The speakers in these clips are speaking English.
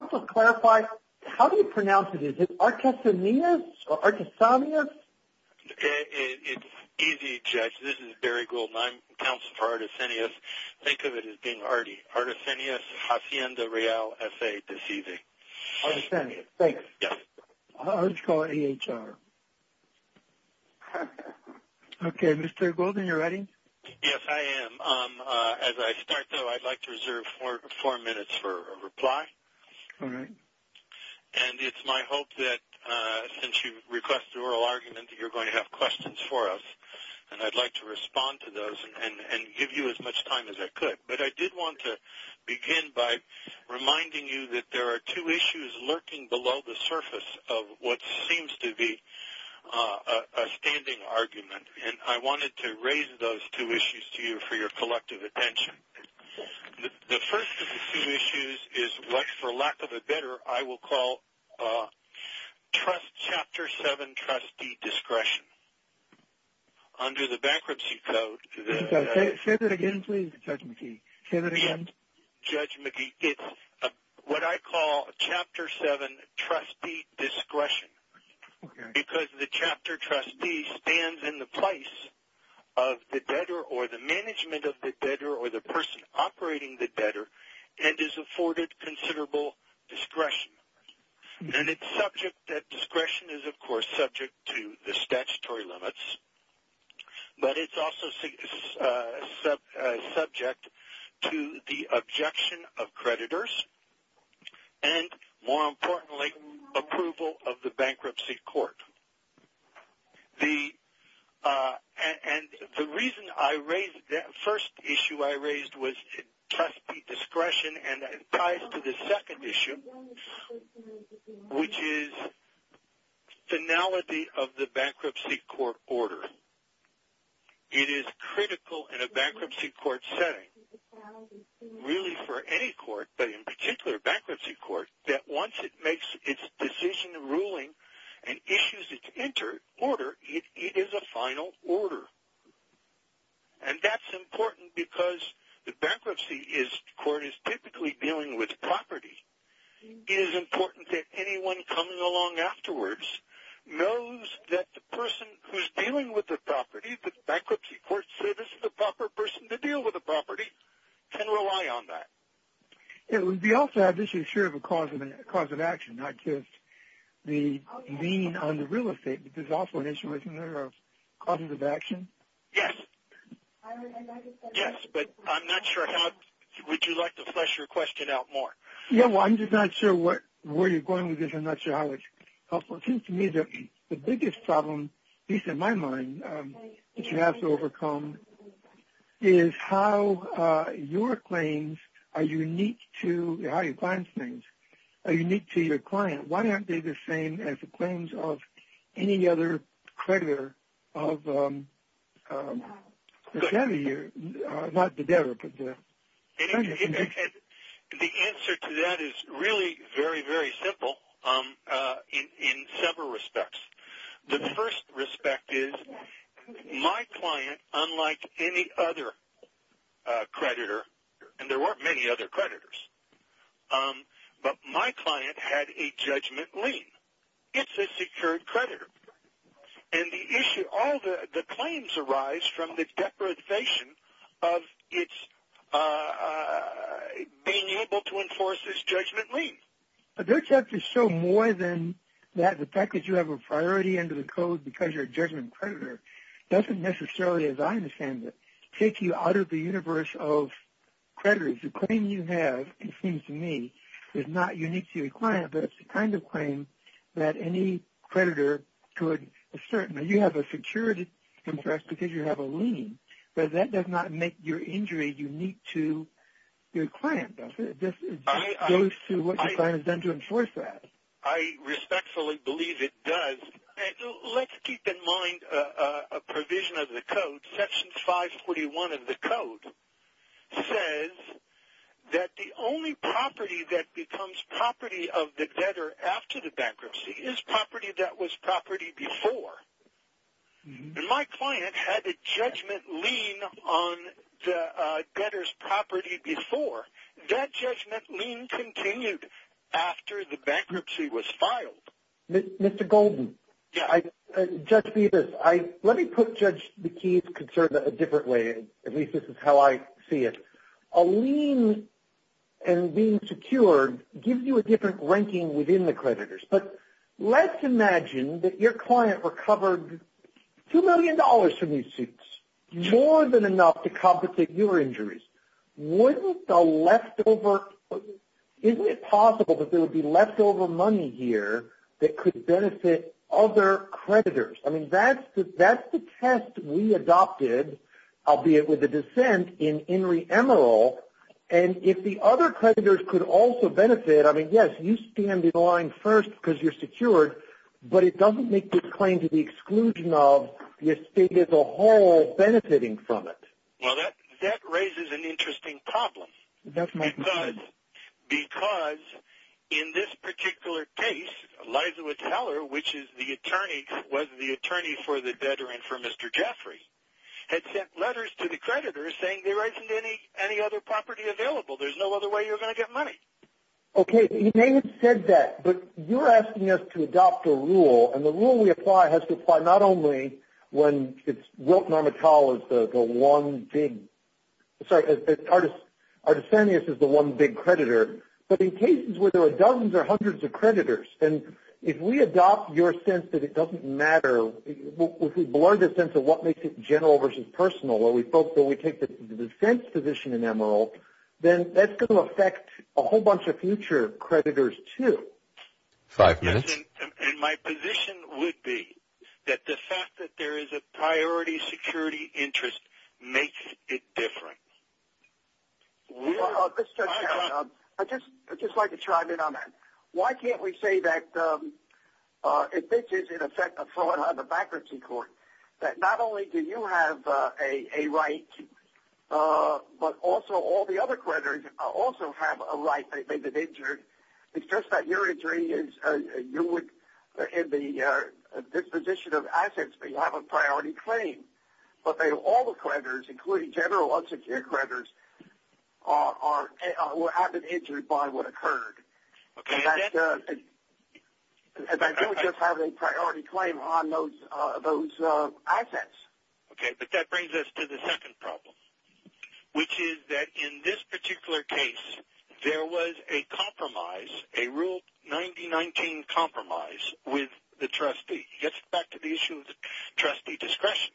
Also to clarify, how do you pronounce it? Is it Artesanias or Artesanias? It's easy, Jeff. This is Barry Goulden. I pronounce it Artesanias. Think of it as being Artie. Artesanias Hacienda Real, S.A. That's easy. Artesanias. Thanks. Yep. Let's call it A.H.R. Okay, Mr. Goulden, you ready? Yes, I am. As I start, though, I'd like to reserve four minutes for a reply. All right. And it's my hope that since you've requested oral argument that you're going to have questions for us. And I'd like to respond to those and give you as much time as I could. But I did want to begin by reminding you that there are two issues lurking below the surface of what seems to be a standing argument. And I wanted to raise those two issues to you for your collective attention. The first of the two issues is what, for lack of a better, I will call chapter 7, trustee discretion. Under the bankruptcy code. Say that again, please, Judge McKee. Say that again. Judge McKee, it's what I call chapter 7, trustee discretion. Because the chapter trustee stands in the place of the debtor or the management of the debtor or the person operating the debtor and is afforded considerable discretion. And it's subject, that discretion is, of course, subject to the statutory limits. But it's also subject to the objection of creditors and, more importantly, approval of the bankruptcy court. And the reason I raised that first issue I raised was trustee discretion. And it ties to the second issue, which is finality of the bankruptcy court order. It is critical in a bankruptcy court setting, really for any court, but in particular bankruptcy court, that once it makes its decision and ruling and issues its order, it is a final order. And that's important because the bankruptcy court is typically dealing with property. It is important that anyone coming along afterwards knows that the person who's dealing with the property, the bankruptcy court says this is the proper person to deal with the property, can rely on that. We also have issues here of a cause of action, not just the lien on the real estate, but there's also an issue, isn't there, of causes of action? Yes. Yes, but I'm not sure how – would you like to flesh your question out more? Yeah, well, I'm just not sure where you're going with this. I'm not sure how it's helpful. It seems to me the biggest problem, at least in my mind, that you have to overcome is how your claims are unique to – how you find things are unique to your client. Why aren't they the same as the claims of any other creditor of – not the debtor, but the – The answer to that is really very, very simple in several respects. The first respect is my client, unlike any other creditor, and there weren't many other creditors, but my client had a judgment lien. It's a secured creditor. And the issue – all the claims arise from the deprivation of its – being able to enforce this judgment lien. But they're tough to show more than that. The fact that you have a priority under the code because you're a judgment creditor doesn't necessarily, as I understand it, take you out of the universe of creditors. The claim you have, it seems to me, is not unique to your client, but it's the kind of claim that any creditor could assert. Now, you have a secured contract because you have a lien, but that does not make your injury unique to your client, does it? It just goes to what your client has done to enforce that. I respectfully believe it does. Let's keep in mind a provision of the code. Section 541 of the code says that the only property that becomes property of the debtor after the bankruptcy is property that was property before. My client had a judgment lien on the debtor's property before. That judgment lien continued after the bankruptcy was filed. Mr. Golden, judge me this. Let me put Judge McKee's concern a different way. At least this is how I see it. A lien and being secured gives you a different ranking within the creditors. But let's imagine that your client recovered $2 million from these suits, more than enough to complicate your injuries. Isn't it possible that there would be leftover money here that could benefit other creditors? I mean, that's the test we adopted, albeit with a dissent, in Enry Emeril. And if the other creditors could also benefit, I mean, yes, you stand in line first because you're secured, but it doesn't make this claim to the exclusion of your state as a whole benefiting from it. Well, that raises an interesting problem. Because in this particular case, Liza Whittler, which is the attorney, was the attorney for the debtor and for Mr. Jeffrey, had sent letters to the creditors saying there isn't any other property available. There's no other way you're going to get money. Okay, you may have said that, but you're asking us to adopt a rule, and the rule we apply has to apply not only when it's Wilk-Normital is the one big – sorry, Artesanius is the one big creditor, but in cases where there are dozens or hundreds of creditors. And if we adopt your sense that it doesn't matter, if we blur the sense of what makes it general versus personal, where we felt that we take the dissent position in Emeril, then that's going to affect a whole bunch of future creditors too. Five minutes. And my position would be that the fact that there is a priority security interest makes it different. I'd just like to chime in on that. Why can't we say that if this is, in effect, a fraud on the bankruptcy court, that not only do you have a right, but also all the other creditors also have a right, they've been injured. It's just that your injury is – you're in the disposition of assets, but you have a priority claim. But all the creditors, including general unsecured creditors, were either injured by what occurred. Okay. And I don't just have a priority claim on those assets. Okay, but that brings us to the second problem, which is that in this particular case, there was a compromise, a Rule 9019 compromise with the trustee. It gets back to the issue of the trustee discretion.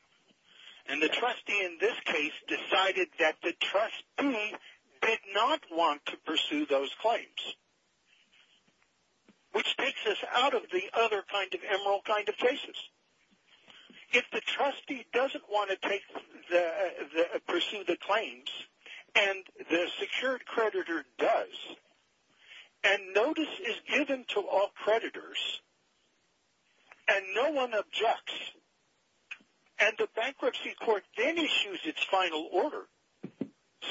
And the trustee in this case decided that the trustee did not want to pursue those claims, which takes us out of the other kind of Emeril kind of cases. If the trustee doesn't want to pursue the claims, and the secured creditor does, and notice is given to all creditors and no one objects, and the bankruptcy court then issues its final order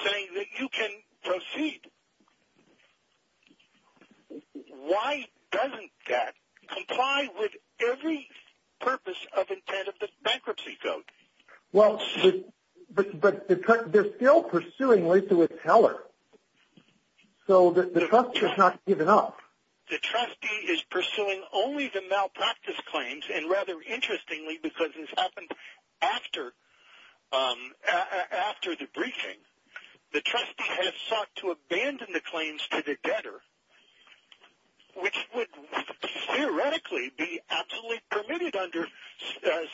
saying that you can proceed, why doesn't that comply with every purpose of intent of the bankruptcy code? Well, but they're still pursuing Lisa with Heller. So the trustee has not given up. The trustee is pursuing only the malpractice claims, and rather interestingly, because this happened after the briefing, the trustee has sought to abandon the claims to the debtor, which would theoretically be absolutely permitted under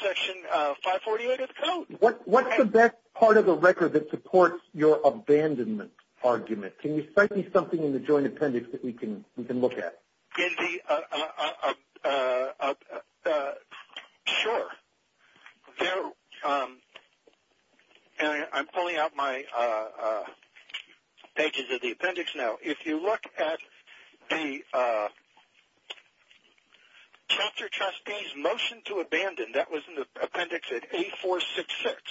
Section 548 of the code. What's the best part of the record that supports your abandonment argument? Can you cite me something in the joint appendix that we can look at? Sure. I'm pulling out my pages of the appendix now. If you look at the chapter trustee's motion to abandon, that was in the appendix at 8466.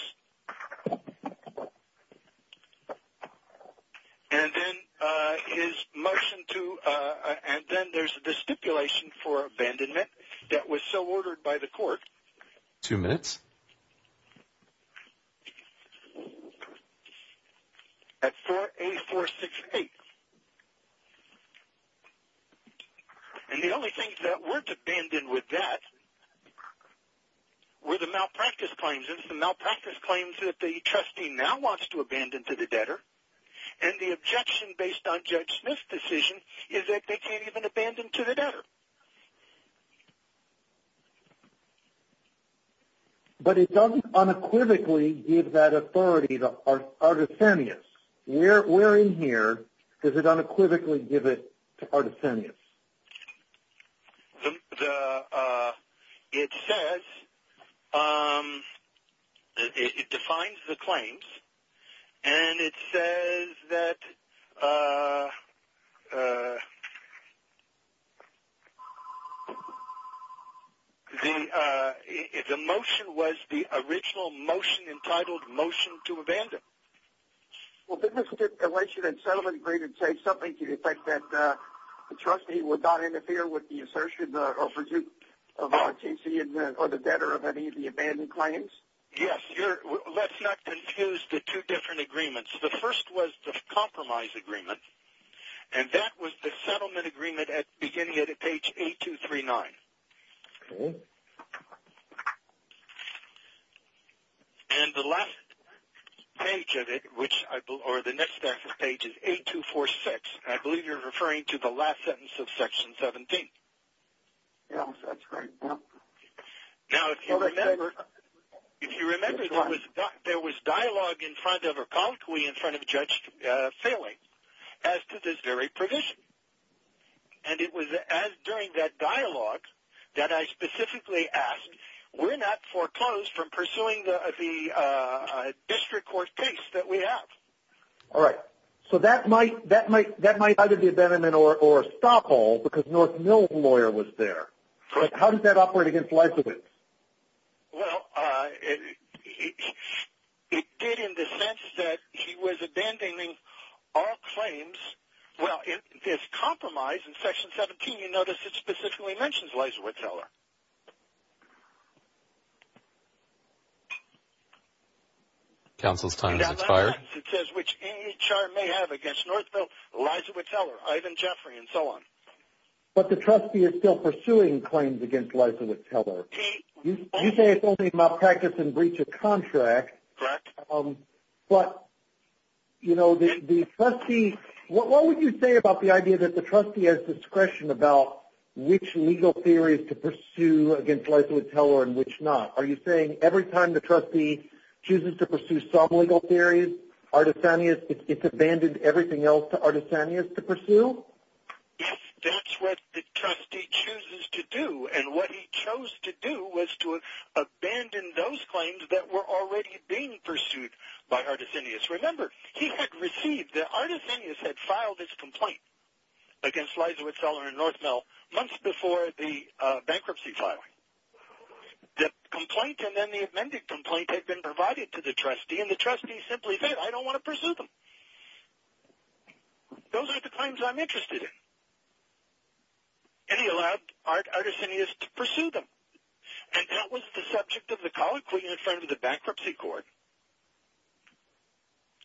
And then there's the stipulation for abandonment that was so ordered by the court. Two minutes. At 8468. And the only things that weren't abandoned with that were the malpractice claims. The malpractice claims that the trustee now wants to abandon to the debtor, and the objection based on Judge Smith's decision is that they can't even abandon to the debtor. But it doesn't unequivocally give that authority to Artesanius. Where in here does it unequivocally give it to Artesanius? It says it defines the claims, and it says that the motion was the original motion entitled motion to abandon. Well, didn't the stipulation in settlement agreement say something to the effect that the trustee would not interfere with the assertion or pursuit of Artesanius or the debtor of any of the abandoned claims? Yes. Let's not confuse the two different agreements. The first was the compromise agreement, and that was the settlement agreement beginning at page 8239. Okay. And the last page of it, or the next page, is 8246, and I believe you're referring to the last sentence of Section 17. Yes, that's right. Now, if you remember, there was dialogue in front of her colleague, in front of Judge Saway, as to this very provision. And it was during that dialogue that I specifically asked, we're not foreclosed from pursuing the district court case that we have. All right. So that might either be abandonment or a stop all because North Mill's lawyer was there. Correct. How does that operate against Leibowitz? Well, it did in the sense that he was abandoning all claims. Well, this compromise in Section 17, you notice it specifically mentions Leibowitz-Heller. It says, which any charge may have against North Mill, Leibowitz-Heller, Ivan Jeffrey, and so on. But the trustee is still pursuing claims against Leibowitz-Heller. You say it's only a practice in breach of contract. Correct. But, you know, the trustee, what would you say about the idea that the trustee has discretion about which legal theories to pursue against Leibowitz-Heller and which not? Are you saying every time the trustee chooses to pursue some legal theories, Artisanius, it's abandoned everything else to Artisanius to pursue? Yes, that's what the trustee chooses to do. And what he chose to do was to abandon those claims that were already being pursued by Artisanius. Remember, he had received, Artisanius had filed his complaint against Leibowitz-Heller and North Mill months before the bankruptcy filing. The complaint and then the amended complaint had been provided to the trustee, and the trustee simply said, I don't want to pursue them. Those are the claims I'm interested in. And he allowed Artisanius to pursue them. And that was the subject of the colloquy in front of the bankruptcy court.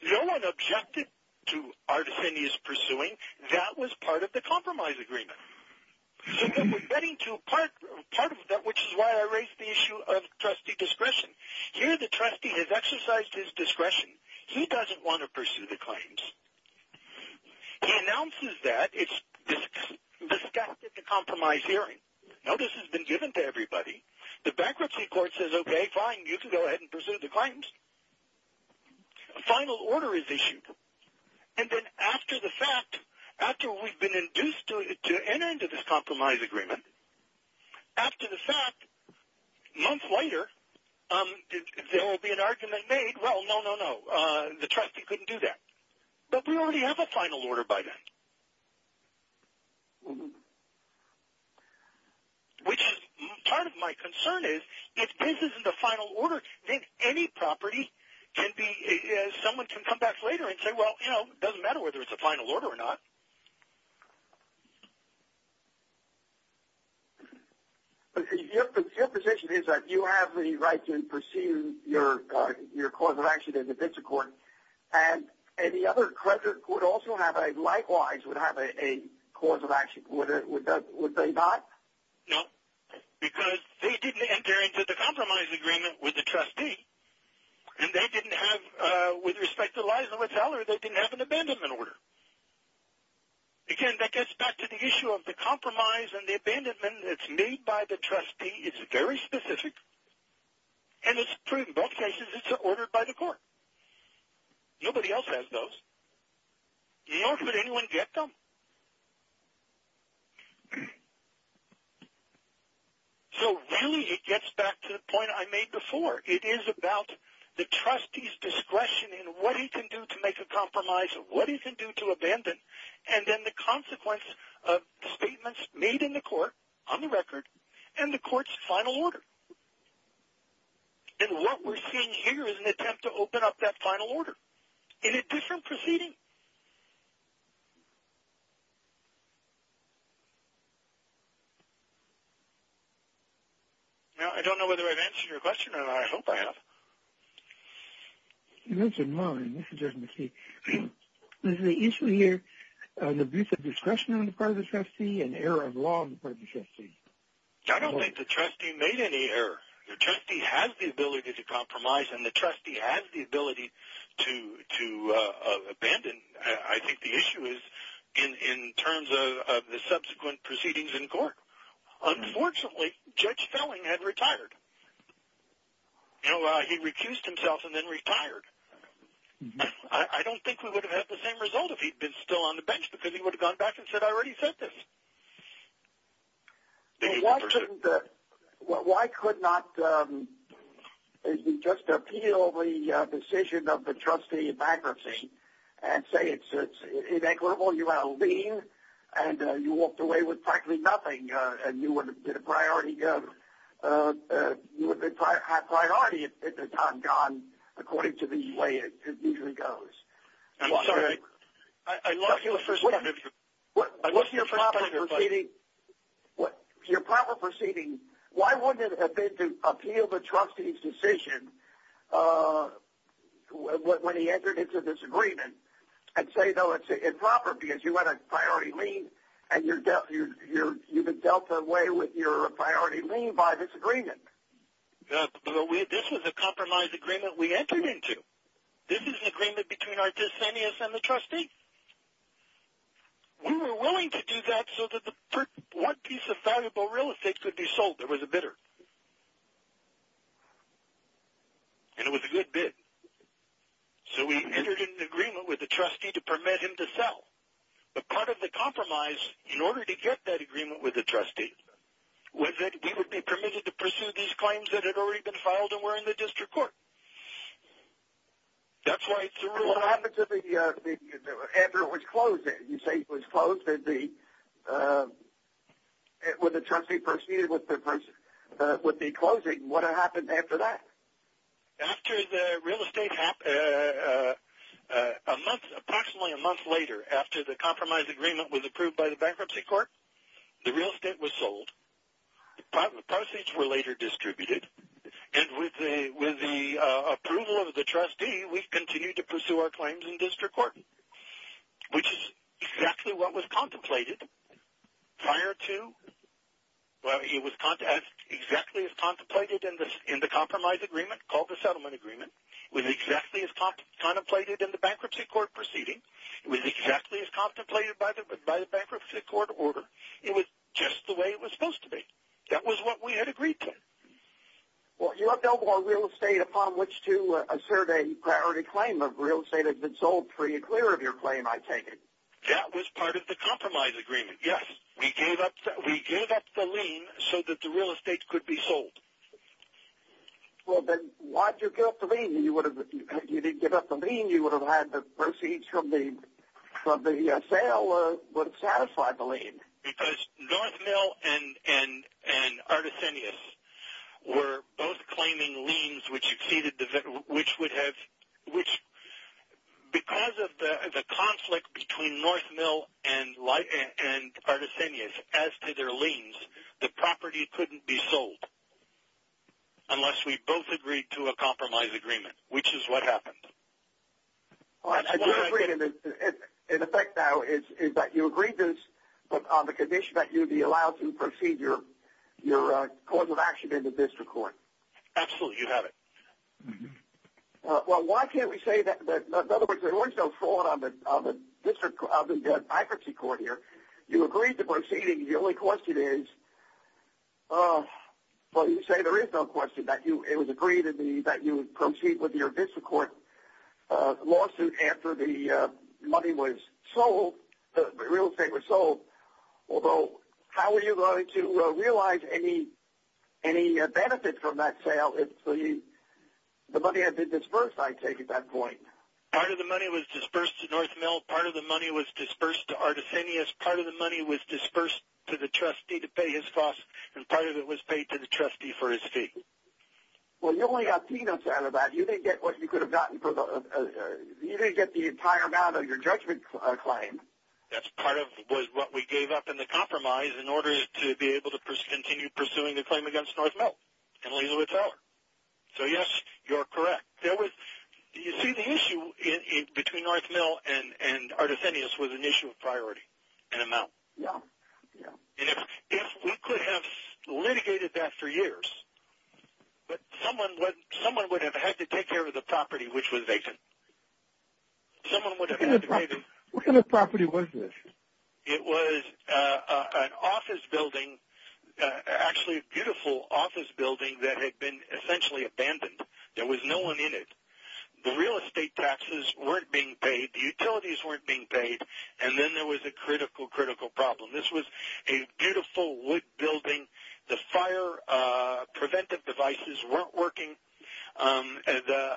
No one objected to Artisanius pursuing. That was part of the compromise agreement. And we're getting to part of that, which is why I raised the issue of trustee discretion. Here, the trustee has exercised his discretion. He doesn't want to pursue the claims. He announces that. This is a compromise hearing. Notice has been given to everybody. The bankruptcy court says, okay, fine, you can go ahead and pursue the claims. A final order is issued. And then after the fact, after we've been induced to enter into this compromise agreement, after the fact, months later, there will be an argument made, well, no, no, no, the trustee couldn't do that. But we already have a final order by then. Which part of my concern is if this isn't a final order, then any property can be as someone can come back later and say, well, you know, it doesn't matter whether it's a final order or not. Your position is that you have the right to pursue your cause of action in defense of court, and any other collector who would also have a likewise would have a cause of action. Would they not? No, because they didn't enter into the compromise agreement with the trustee. And they didn't have, with respect to Liza with Heller, they didn't have an abandonment order. Again, that gets back to the issue of the compromise and the abandonment that's made by the trustee. It's very specific. And it's true in both cases. It's ordered by the court. Nobody else has those, nor could anyone get them. So really it gets back to the point I made before. It is about the trustee's discretion in what he can do to make a compromise, what he can do to abandon, and then the consequence of statements made in the court on the record and the court's final order. And what we're seeing here is an attempt to open up that final order. Is it different proceeding? Now, I don't know whether I've answered your question or not. I hope I have. You mentioned mine. This is just a mistake. Is the issue here an abuse of discretion on the part of the trustee, an error of law on the part of the trustee? I don't think the trustee made any error. The trustee has the ability to compromise, and the trustee has the ability to abandon. I think the issue is in terms of the subsequent proceedings in court. Unfortunately, Judge Felling had retired. No, he recused himself and then retired. I don't think we would have had the same result if he had been still on the bench because he would have gone back and said, I already said this. Why could not we just appeal the decision of the trustee in bankruptcy and say it's inequitable, you have a lien, and you walked away with practically nothing, and you would have been a priority if it had not gone according to the way it usually goes? I'm sorry. I lost the first part of your question. What's your proper proceeding? Why wouldn't it have been to appeal the trustee's decision when he entered into this agreement and say, no, it's improper because you had a priority lien, and you've been dealt away with your priority lien by this agreement? This was a compromise agreement we entered into. This is an agreement between our dissenters and the trustee. We were willing to do that so that one piece of valuable real estate could be sold. There was a bidder. And it was a good bid. So we entered into an agreement with the trustee to permit him to sell. But part of the compromise, in order to get that agreement with the trustee, was that he would be permitted to pursue these claims that had already been filed and were in the district court. That's why it's a rule of law. What happened to the Edgar was closed? You say it was closed when the trustee proceeded with the closing. What happened after that? After the real estate, approximately a month later, after the compromise agreement was approved by the bankruptcy court, the real estate was sold. The proceeds were later distributed. And with the approval of the trustee, we continued to pursue our claims in district court, which is exactly what was contemplated prior to. It was exactly as contemplated in the compromise agreement, called the settlement agreement. It was exactly as contemplated in the bankruptcy court proceeding. It was exactly as contemplated by the bankruptcy court order. It was just the way it was supposed to be. That was what we had agreed to. You have no more real estate upon which to assert a priority claim. Real estate has been sold. Are you clear of your claim, I take it? That was part of the compromise agreement, yes. We gave up the lien so that the real estate could be sold. Well, then why did you give up the lien? If you didn't give up the lien, you would have had the proceeds from the sale would have satisfied the lien. Because North Mill and Artesanias were both claiming liens, which would have – because of the conflict between North Mill and Artesanias as to their liens, the property couldn't be sold unless we both agreed to a compromise agreement, which is what happened. In effect now is that you agreed on the condition that you'd be allowed to proceed your court of action into district court. Absolutely. You have it. Well, why can't we say that – in other words, there was no fraud on the district – on the bankruptcy court here. You agreed to proceeding. The only question is – well, you say there is no question that it was agreed that you would proceed with your district court lawsuit after the money was sold, the real estate was sold. Although, how were you going to realize any benefit from that sale? The money had been disbursed, I take it, at that point. Part of the money was disbursed to North Mill. Part of the money was disbursed to Artesanias. Part of the money was disbursed to the trustee to pay his costs, and part of it was paid to the trustee for his fee. Well, you only got peanuts out of that. You didn't get what you could have gotten for the – you didn't get the entire amount of your judgment claim. That's part of what we gave up in the compromise in order to be able to continue pursuing the claim against North Mill and Leland Wood Teller. So, yes, you're correct. There was – you see, the issue between North Mill and Artesanias was an issue of priority and amount. Yeah, yeah. And if we could have litigated that for years, but someone would have had to take care of the property which was vacant. Someone would have had to pay the – What kind of property was this? It was an office building, actually a beautiful office building, that had been essentially abandoned. There was no one in it. The real estate taxes weren't being paid. The utilities weren't being paid. And then there was a critical, critical problem. This was a beautiful wood building. The fire preventive devices weren't working. The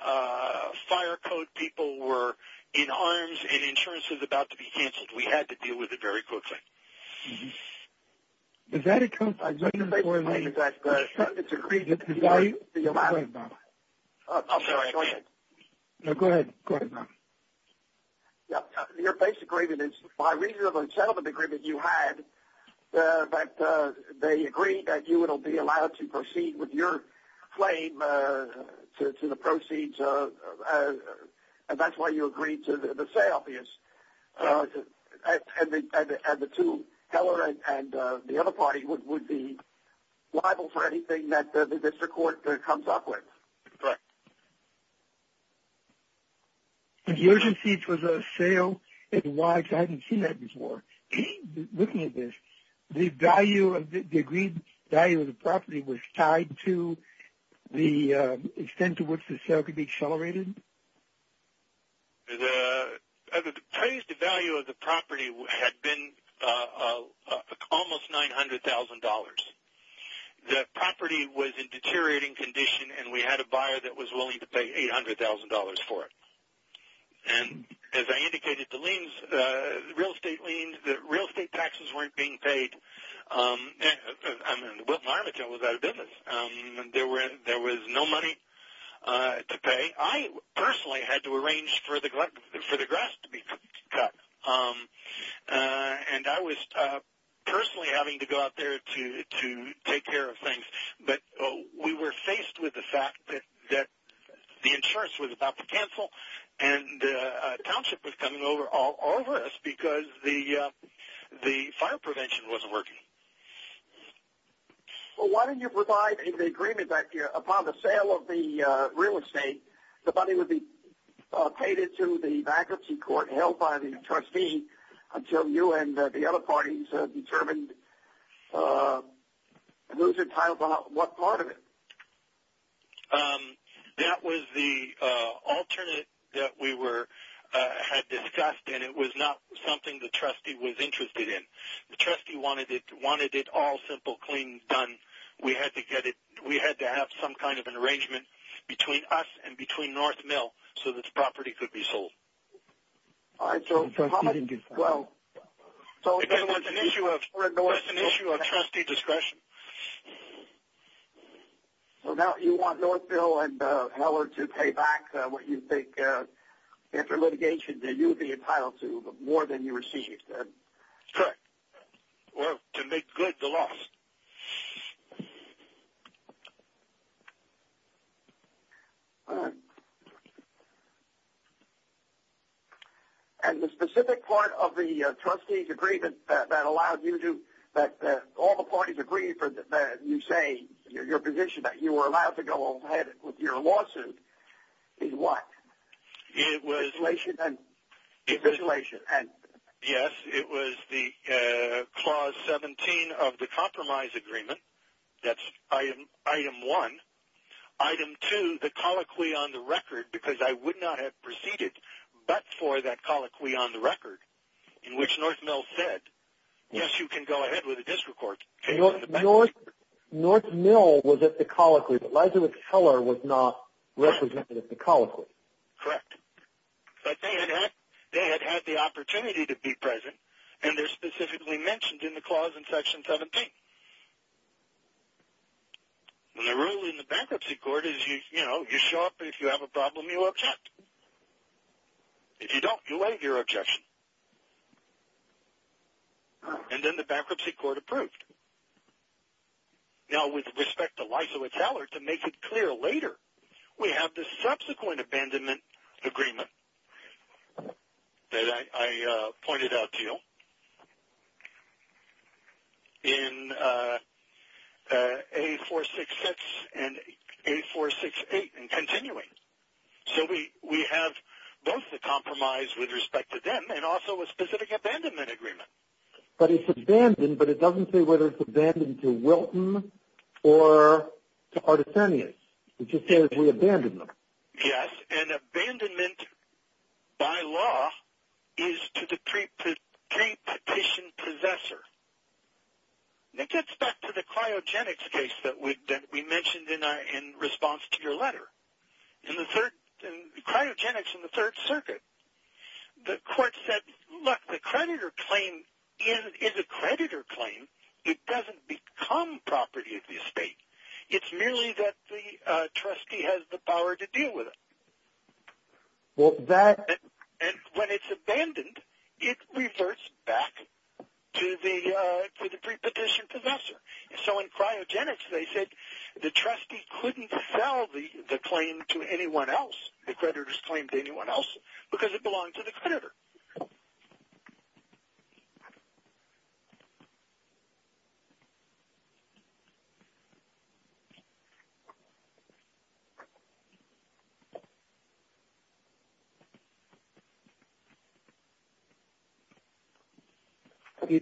fire code people were in harms and insurance was about to be canceled. We had to deal with it very quickly. Is that a – Your base agreement is by reason of a settlement agreement you had that they agreed that you would be allowed to proceed with your claim to the proceeds, and that's why you agreed to the sale. And the two, Heller and the other party, would be liable for anything that the district court comes up with. Correct. And the urgency for the sale, I hadn't seen that before. Looking at this, the agreed value of the property was tied to the extent to which the sale could be accelerated? The value of the property had been almost $900,000. The property was in deteriorating condition, and we had a buyer that was willing to pay $800,000 for it. And as I indicated, the real estate liens, the real estate taxes weren't being paid, and the Biltmore Armadale was out of business. There was no money to pay. I personally had to arrange for the grass to be cut, and I was personally having to go out there to take care of things. But we were faced with the fact that the insurance was about to cancel and a township was coming over us because the fire prevention wasn't working. Well, why didn't you provide in the agreement that upon the sale of the real estate, the money would be paid into the bankruptcy court held by the trustee until you and the other parties had determined and those entitled to what part of it? That was the alternate that we had discussed, and it was not something the trustee was interested in. The trustee wanted it all simple, clean, done. We had to have some kind of an arrangement between us and between North Mill so this property could be sold. All right. That's an issue of trustee discretion. So now you want North Mill and Heller to pay back what you think, after litigation, that you would be entitled to more than you received. Correct. Well, to make good the loss. All right. And the specific part of the trustee's agreement that allowed you to do that, all the parties agreed that you say, your position that you were allowed to go ahead with your lawsuit is what? It was the clause 17 of the Compromise, that's item one. Item two, the colloquy on the record, because I would not have proceeded but for that colloquy on the record, in which North Mill said, yes, you can go ahead with a district court. North Mill was at the colloquy. Elizabeth Heller was not represented at the colloquy. Correct. But they had had the opportunity to be present, and they're specifically mentioned in the clause in section 17. The rule in the bankruptcy court is, you know, you show up and if you have a problem, you object. If you don't, you waive your objection. And then the bankruptcy court approved. Now, with respect to Elizabeth Heller, to make it clear later, we have the subsequent abandonment agreement that I pointed out to you. In 8466 and 8468 and continuing. So we have both the Compromise with respect to them and also a specific abandonment agreement. But it's abandoned, but it doesn't say whether it's abandoned to Wilton or to Artisanius. It just says we abandoned them. Yes, and abandonment by law is to the pre-petition possessor. It gets back to the cryogenics case that we mentioned in response to your letter. Cryogenics in the Third Circuit. The court said, look, the creditor claim is a creditor claim. It doesn't become property of the estate. It's merely that the trustee has the power to deal with it. And when it's abandoned, it reverts back to the pre-petition possessor. So in cryogenics, they said the trustee couldn't sell the claim to anyone else, the creditor's claim to anyone else, because it belonged to the creditor.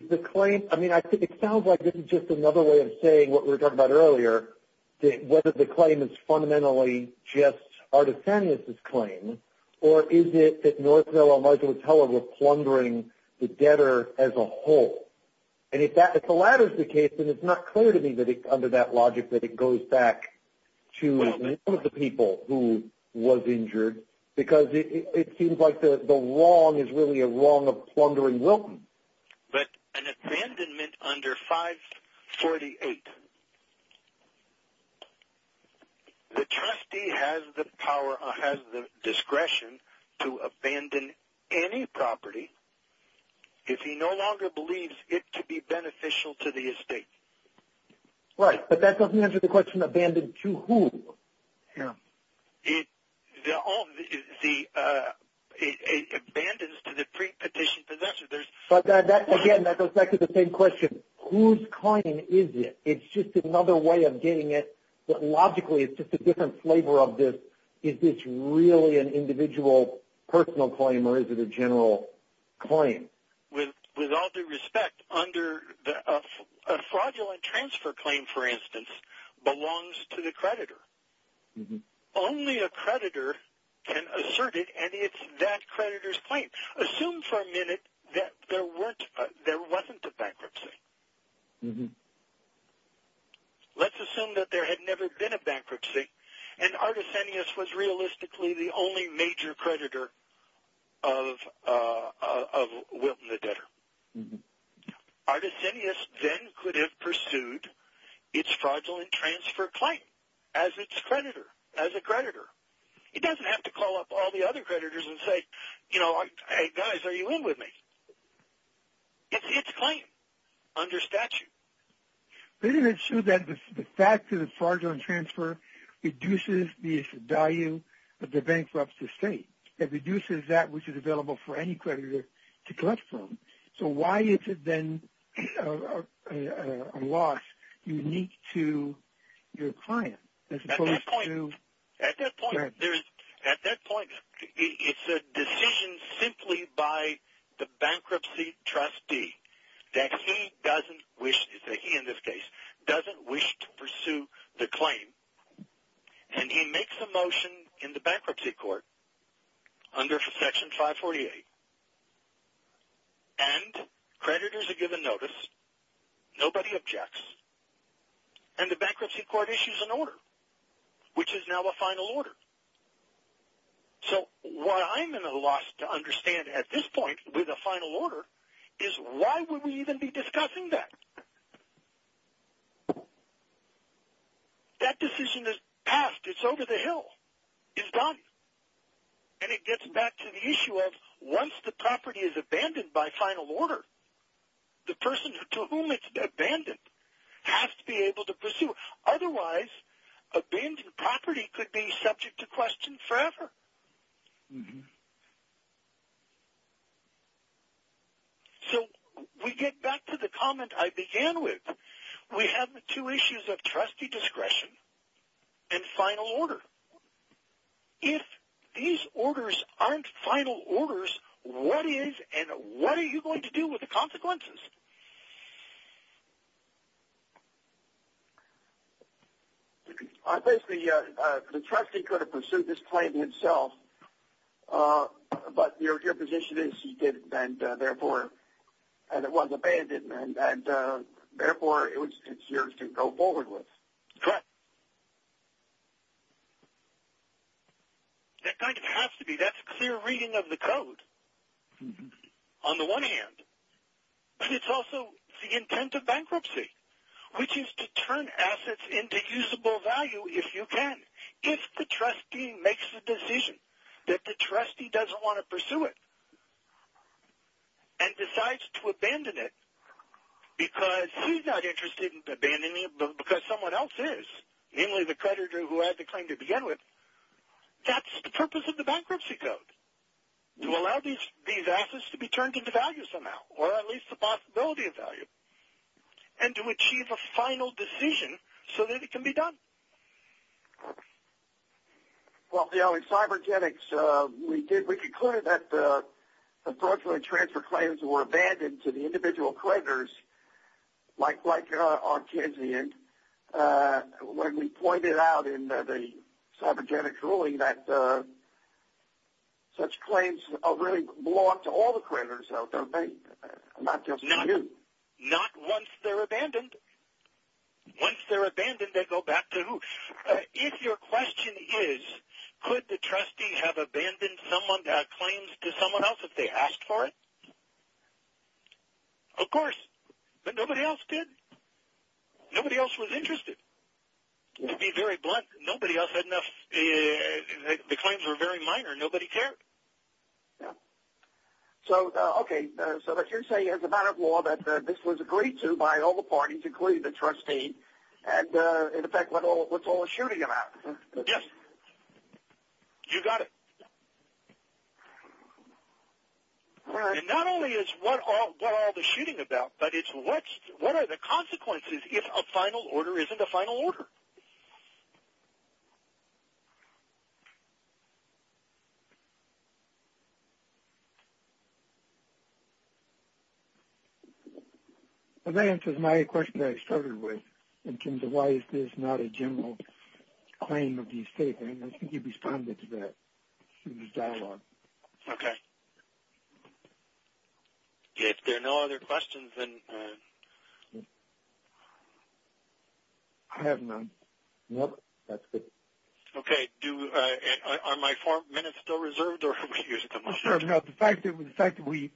The claim, I mean, it sounds like it's just another way of saying what we were talking about earlier, whether the claim is fundamentally just Artisanius' claim, or is it that Northdale or Michael Teller were plundering the debtor as a whole? And if the latter is the case, then it's not clear to me that it's under that logic that it goes back to one of the people who was injured, because it seems like the wrong is really a wrong of plundering Wilton. But an abandonment under 548, the trustee has the power or has the discretion to abandon any property if he no longer believes it to be beneficial to the estate. Right, but that doesn't answer the question, abandoned to whom? It abandons to the pre-petitioned possessor. But again, that goes back to the same question. Whose claim is it? It's just another way of getting at what logically is just a different flavor of this. Is this really an individual personal claim, or is it a general claim? With all due respect, a fraudulent transfer claim, for instance, belongs to the creditor. Only a creditor can assert it, and it's that creditor's claim. Assume for a minute that there wasn't a bankruptcy. Let's assume that there had never been a bankruptcy, and Artisenius was realistically the only major creditor of Wilton the debtor. Artisenius then could have pursued its fraudulent transfer claim as its creditor, as a creditor. He doesn't have to call up all the other creditors and say, you know, hey, guys, are you in with me? It's his claim under statute. But isn't it true that the fact that it's fraudulent transfer reduces the value of the bankruptcy state? It reduces that which is available for any creditor to collect from. So why is it then a loss unique to your client? At that point, it's a decision simply by the bankruptcy trustee that he doesn't wish to pursue the claim, and he makes a motion in the bankruptcy court under Section 548, and creditors are given notice, nobody objects, and the bankruptcy court issues an order, which is now a final order. So what I'm in a loss to understand at this point with a final order is why would we even be discussing that? That decision is passed. It's over the hill. It's done. And it gets back to the issue of once the property is abandoned by final order, the person to whom it's abandoned has to be able to pursue it. Otherwise, abandoned property could be subject to question forever. So we get back to the comment I began with. We have the two issues of trustee discretion and final order. If these orders aren't final orders, what is, and what are you going to do with the consequences? I think the trustee could have pursued this claim himself, but your position is he did, and therefore it was abandoned, and therefore it's yours to go forward with. Correct. That kind of has to be. That's clear reading of the code on the one hand, but it's also the intent of bankruptcy, which is to turn assets into usable value if you can. If the trustee makes a decision that the trustee doesn't want to pursue it and decides to abandon it because he's not interested in abandoning it, but because someone else is, namely the creditor who had the claim to begin with, that's the purpose of the bankruptcy code, to allow these assets to be turned into value somehow, or at least the possibility of value, and to achieve a final decision so that it can be done. Well, you know, in cybernetics, we concluded that the fraudulent transfer claims were abandoned to the individual creditors, like our kids did. When we pointed out in the cybernetics ruling that such claims really belong to all the creditors, not just you. Not once they're abandoned. Once they're abandoned, they go back to who? If your question is, could the trustee have abandoned a claim to someone else if they asked for it? Of course. But nobody else did. Nobody else was interested. To be very blunt, nobody else had enough. The claims were very minor. Nobody cared. So, okay, so you're saying as a matter of law that this was agreed to by all the parties, including the trustee, and, in effect, what's all the shooting about? Yes. You got it. And not only is what all the shooting about, but it's what are the consequences if a final order isn't a final order? That answers my question that I started with, in terms of why is this not a general claim of the state. I think you responded to that in the dialogue. Okay. If there are no other questions, then. I have none. Nope. That's it. Okay. Are my four minutes still reserved? No, the fact that we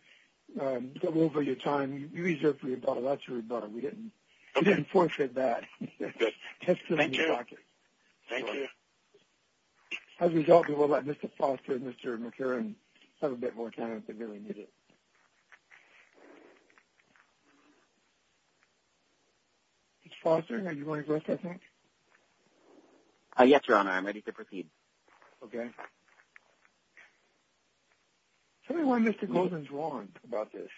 go over your time, you reserved for your daughter. That's your daughter. We didn't forfeit that. Good. Thank you. Thank you. As a result, we will let Mr. Foster and Mr. McCarran have a bit more time if they really need it. Mr. Foster, are you going to address that, I think? Yes, Your Honor. I'm ready to proceed. Okay. Tell me why Mr. Goldman is wrong about this.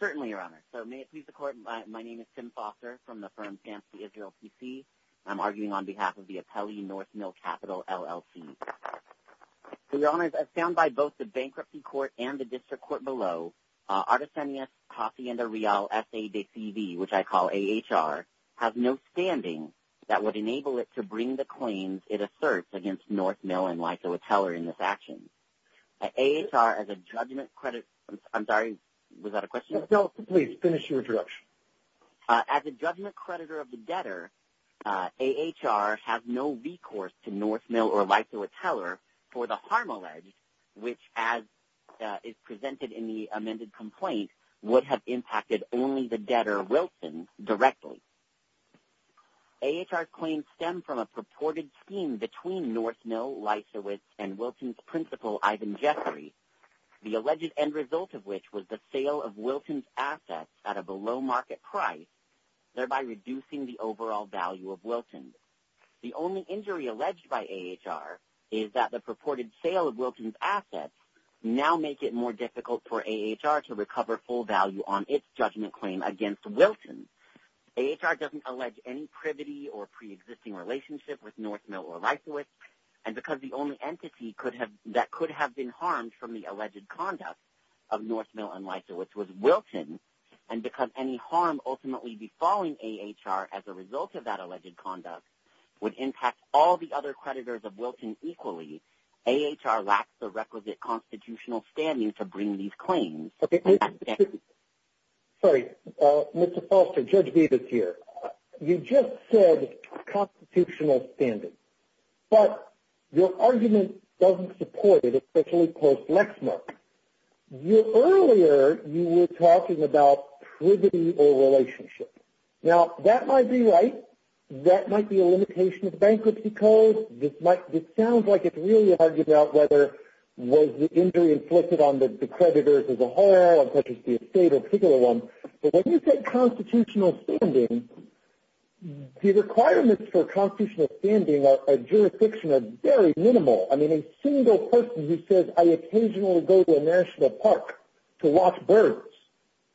Certainly, Your Honor. So may it please the Court, my name is Tim Foster from the firm on behalf of the appellee North Mill Capital, LLC. Your Honor, as found by both the bankruptcy court and the district court below, Artesanias Casienda Real F.A.D.C.V., which I call A.H.R., has no standing that would enable it to bring the claims it asserts against North Mill and Lyco Appellary in this action. A.H.R. as a judgment credit, I'm sorry, was that a question? No, please, finish your introduction. As a judgment creditor of the debtor, A.H.R. has no recourse to North Mill or Lyco Appellary for the harm alleged, which as is presented in the amended complaint, would have impacted only the debtor, Wilson, directly. A.H.R. claims stem from a purported scheme between North Mill, Lyco, and Wilson's principal, Ivan Jeffrey, the alleged end result of which was the sale of Wilson's assets at a below market price, thereby reducing the overall value of Wilson. The only injury alleged by A.H.R. is that the purported sale of Wilson's assets now make it more difficult for A.H.R. to recover full value on its judgment claim against Wilson. A.H.R. doesn't allege any privity or preexisting relationship with North Mill or Lyco, and because the only entity that could have been harmed from the and because any harm ultimately befalling A.H.R. as a result of that alleged conduct would impact all the other creditors of Wilson equally, A.H.R. lacks the requisite constitutional standing to bring these claims. Okay. Sorry, Mr. Foster, Judge Bevis here. You just said constitutional standing, but your argument doesn't support it, especially post Lexmark. Earlier you were talking about privity or relationship. Now, that might be right. That might be a limitation of bankruptcy code. This sounds like it's really hard to figure out whether was the injury inflicted on the creditors as a whole, such as the estate in particular. But when you say constitutional standing, the requirements for constitutional standing at jurisdiction are very minimal. I mean, a single person who says, I occasionally go to a national park to watch birds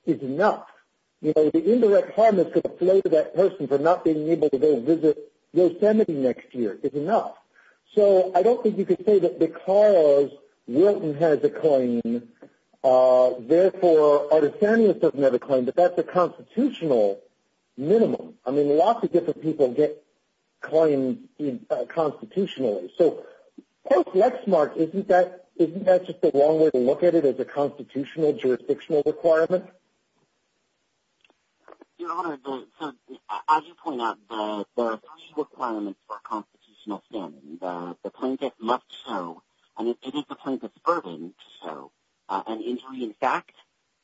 is enough. You know, the indirect harm that's going to play to that person for not being able to go visit Yosemite next year is enough. So I don't think you could say that because Wilson has a claim, therefore Artisanius doesn't have a claim, but that's a constitutional minimum. I mean, lots of different people get claims constitutionally. So post Lexmark, isn't that, isn't that just the wrong way to look at it as a constitutional jurisdictional requirement? Your Honor, as you point out, there are three requirements for a constitutional standing. The plaintiff must show, and it is the plaintiff's burden to show, an injury in fact,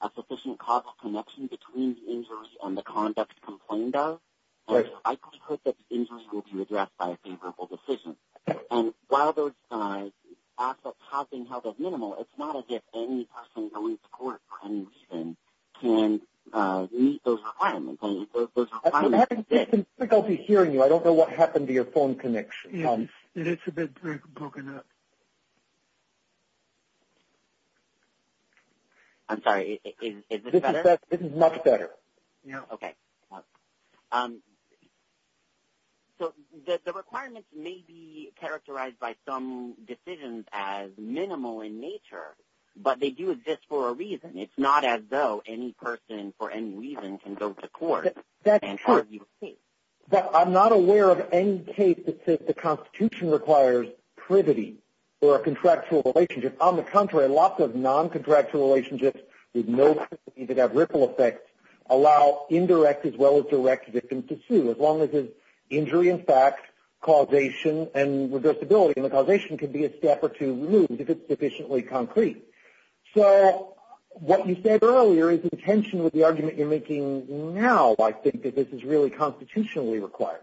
a sufficient causal connection between the injury and the conduct complained of. I think that the injury will be addressed by a favorable decision. And while those assets have been held at minimal, it's not as if any person going to court for any reason can meet those requirements. I don't think I'll be hearing you. I don't know what happened to your phone connection. It's a bit broken up. I'm sorry. This is much better. Yeah. Okay. So the requirements may be characterized by some decisions as minimal in nature, but they do exist for a reason. It's not as though any person for any reason can go to court. I'm not aware of any case that says the constitution requires privity or a contractual relationship. On the contrary, lots of non-contractual relationships with no ripple effects allow indirect as well as direct victims to sue. As long as it's injury in fact, causation, and reversibility. And the causation can be a step or two removed if it's sufficiently concrete. So what you said earlier is in tension with the argument you're making now, I think that this is really constitutionally required.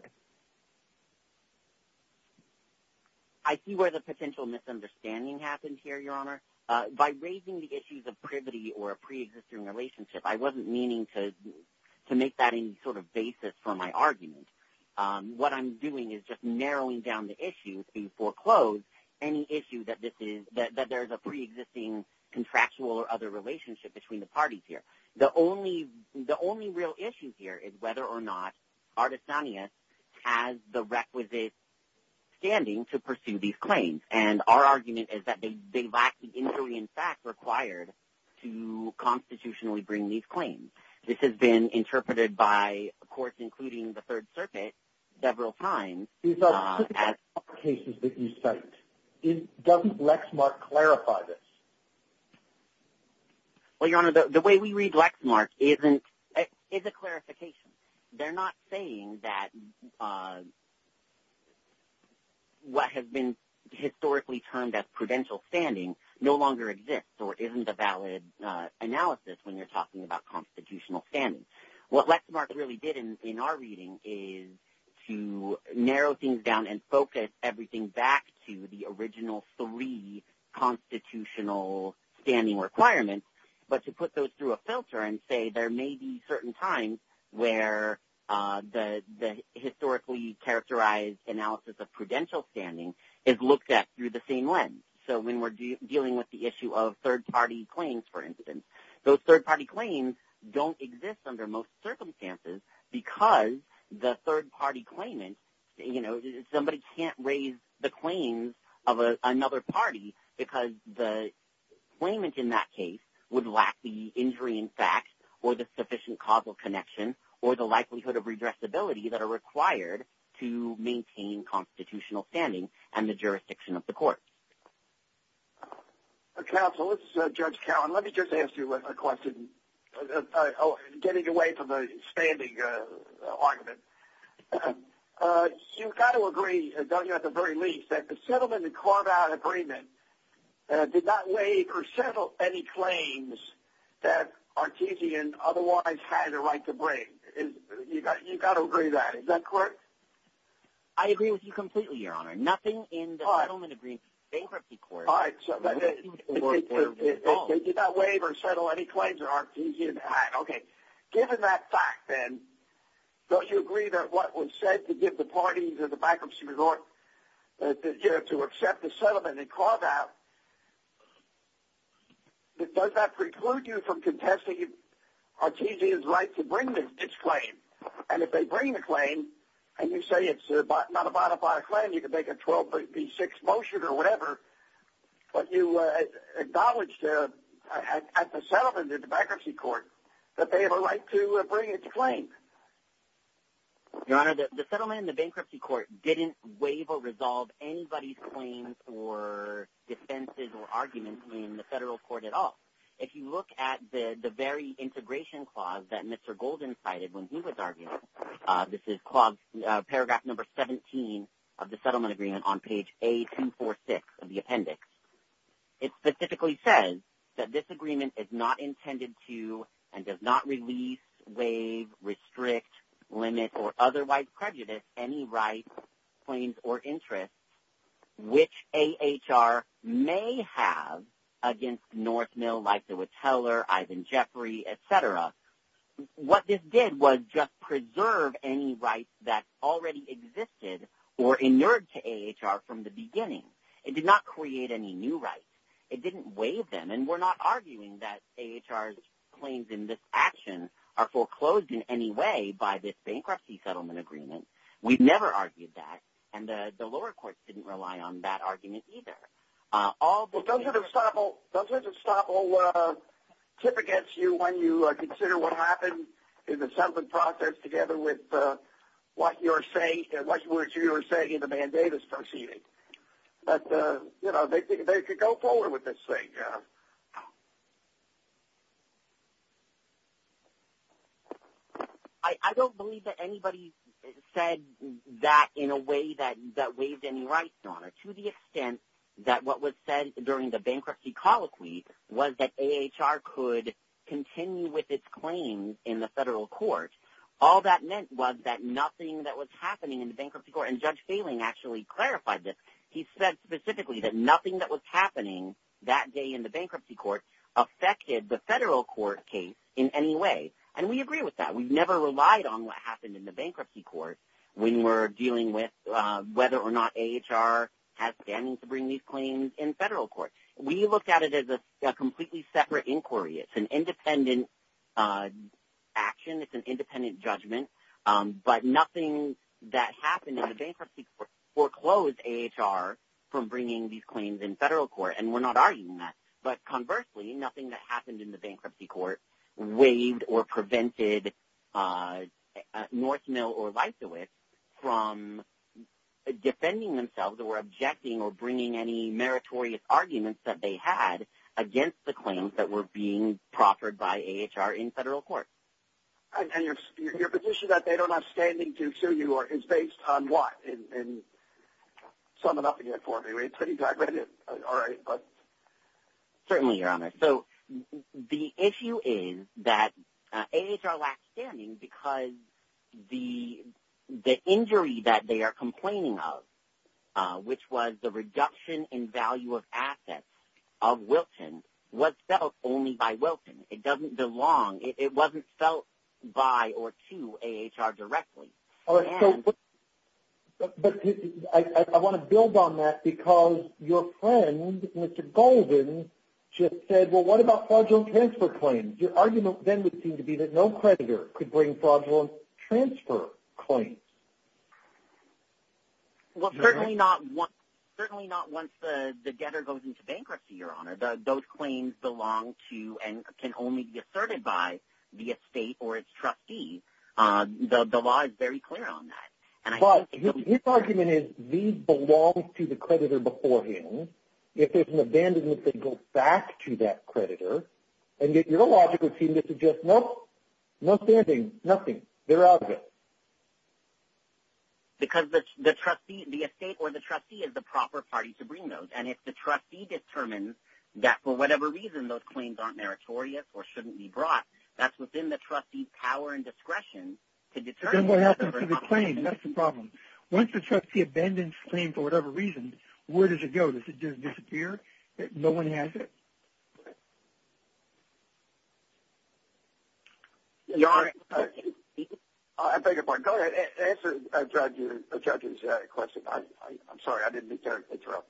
I see where the potential misunderstanding happened here, Your Honor. By raising the issues of privity or a pre-existing relationship, I wasn't meaning to make that any sort of basis for my argument. What I'm doing is just narrowing down the issue to foreclose any issue that there's a pre-existing contractual or other relationship between the parties here. The only real issue here is whether or not Artesanias has the requisite standing to pursue these claims. And our argument is that they lack the injury in fact required to constitutionally bring these claims. This has been interpreted by courts, including the Third Circuit, several times. In some cases that you said, doesn't Lexmark clarify this? Well, Your Honor, the way we read Lexmark is a clarification. They're not saying that what has been historically termed as prudential standing no longer exists or isn't a valid analysis when you're talking about constitutional standing. What Lexmark really did in our reading is to narrow things down and focus everything back to the original three constitutional standing requirements, but to put those through a filter and say there may be certain times where the historically characterized analysis of prudential standing is looked at through the same lens. So when we're dealing with the issue of third-party claims, for instance, those third-party claims don't exist under most circumstances because the third-party claimant, you know, somebody can't raise the claims of another party because the claimant in that case would lack the injury in fact or the sufficient causal connection or the likelihood of regressibility that are Counsel, this is Judge Cowan. Let me just ask you a question, getting away from the standing argument. You've got to agree, don't you, at the very least, that the settlement in Carvine Agreement did not waive or settle any claims that Artesian otherwise had a right to bring. You've got to agree to that. Is that correct? I agree with you completely, Your Honor. Nothing in the settlement agreement bankruptcy court. All right. So they did not waive or settle any claims of Artesian. Okay. Given that fact then, don't you agree that what was said to give the parties or the bankruptcy regard to accept the settlement in Carvine, does that preclude you from contesting Artesian's right to bring its claim? And if they bring the claim and you say it's not a bona fide claim, you can make a 1236 motion or whatever, but you acknowledge at the settlement in the bankruptcy court that they have a right to bring its claim. Your Honor, the settlement in the bankruptcy court didn't waive or resolve anybody's claim for defenses or arguments in the federal court at all. If you look at the very integration clause that Mr. Golden cited when he was arguing, this is paragraph number 17 of the settlement agreement on page A246 of the appendix. It specifically says that this agreement is not intended to, and does not release, waive, restrict, limit, or otherwise prejudice any rights, claims, or interests, which AHR may have against North Mill, Leif DeWitt Heller, Ivan Jeffrey, et cetera. What this did was just preserve any rights that already existed or inured to AHR from the beginning. It did not create any new rights. It didn't waive them. And we're not arguing that AHR's claims in this action are foreclosed in any way by this bankruptcy settlement agreement. We've never argued that. And the lower courts didn't rely on that argument either. Well, those are the stop all, those are the stop all tip against you when you consider what happened in the settlement process together with what you're saying and what you were saying in the mandate is proceeding. But you know, they could go forward with this thing. I don't believe that anybody said that in a way that, that waived any rights to honor to the extent that what was said during the bankruptcy colloquy was that AHR could continue with its claims in the federal court. All that meant was that nothing that was happening in the bankruptcy court, and Judge Phelan actually clarified this. He said specifically that nothing that was happening that day in the bankruptcy court affected the federal court case in any way. And we agree with that. We've never relied on what happened in the bankruptcy court when we're dealing with whether or not AHR has standing to bring these claims in federal court. We looked at it as a completely separate inquiry. It's an independent action. It's an independent judgment, but nothing that happened in the bankruptcy foreclosed AHR from bringing these claims in federal court. And we're not arguing that, but conversely nothing that happened in the bankruptcy court waived or defending themselves or objecting or bringing any meritorious arguments that they had against the claims that were being proffered by AHR in federal court. And your position that they don't have standing to sue you or is based on what? And so I'm about to get for me. It's pretty diverted. All right. But certainly you're on it. So the issue is that AHR lacks standing because the, the injury that they are complaining of, which was the reduction in value of assets of Wilton was felt only by Wilton. It doesn't belong. It wasn't felt by or to AHR directly. I want to build on that because your friend, Mr. Golden just said, well what about fraudulent transfer claims? Your argument then would seem to be that no creditor could bring fraudulent transfer claims. Well, certainly not once, certainly not once the debtor goes into bankruptcy, your honor the, those claims belong to and can only be asserted by the estate or its trustees. The, the law is very clear on that. But his argument is these belong to the creditor beforehand. If there's an abandonment, they go back to that creditor and get your logical team to suggest, nope, nothing, nothing. They're all good. Because the trustee, the estate or the trustee is the proper party to bring those. And if the trustee determines that for whatever reason, those claims aren't meritorious or shouldn't be brought, that's within the trustee's power and discretion to determine what happens to the claim. That's the problem. Once the trustee abandons claim for whatever reason, where does it go? Does it just disappear? No one has it. I beg your pardon. Go ahead. Answer a judge, a judge's question. I'm sorry. I didn't mean to interrupt.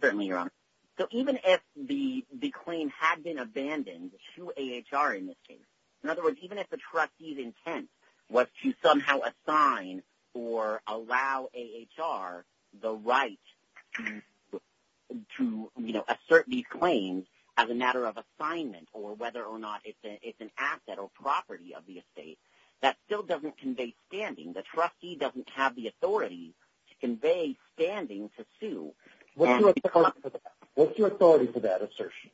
Certainly your honor. So even if the, the claim had been abandoned to a HR in this case, in other words, even if the trustee's intent was to somehow assign or allow a HR, the right to, you know, assert these claims as a matter of assignment or whether or not it's an, an asset or property of the estate that still doesn't convey standing. The trustee doesn't have the authority to convey standing to sue. What's your authority for that assertion?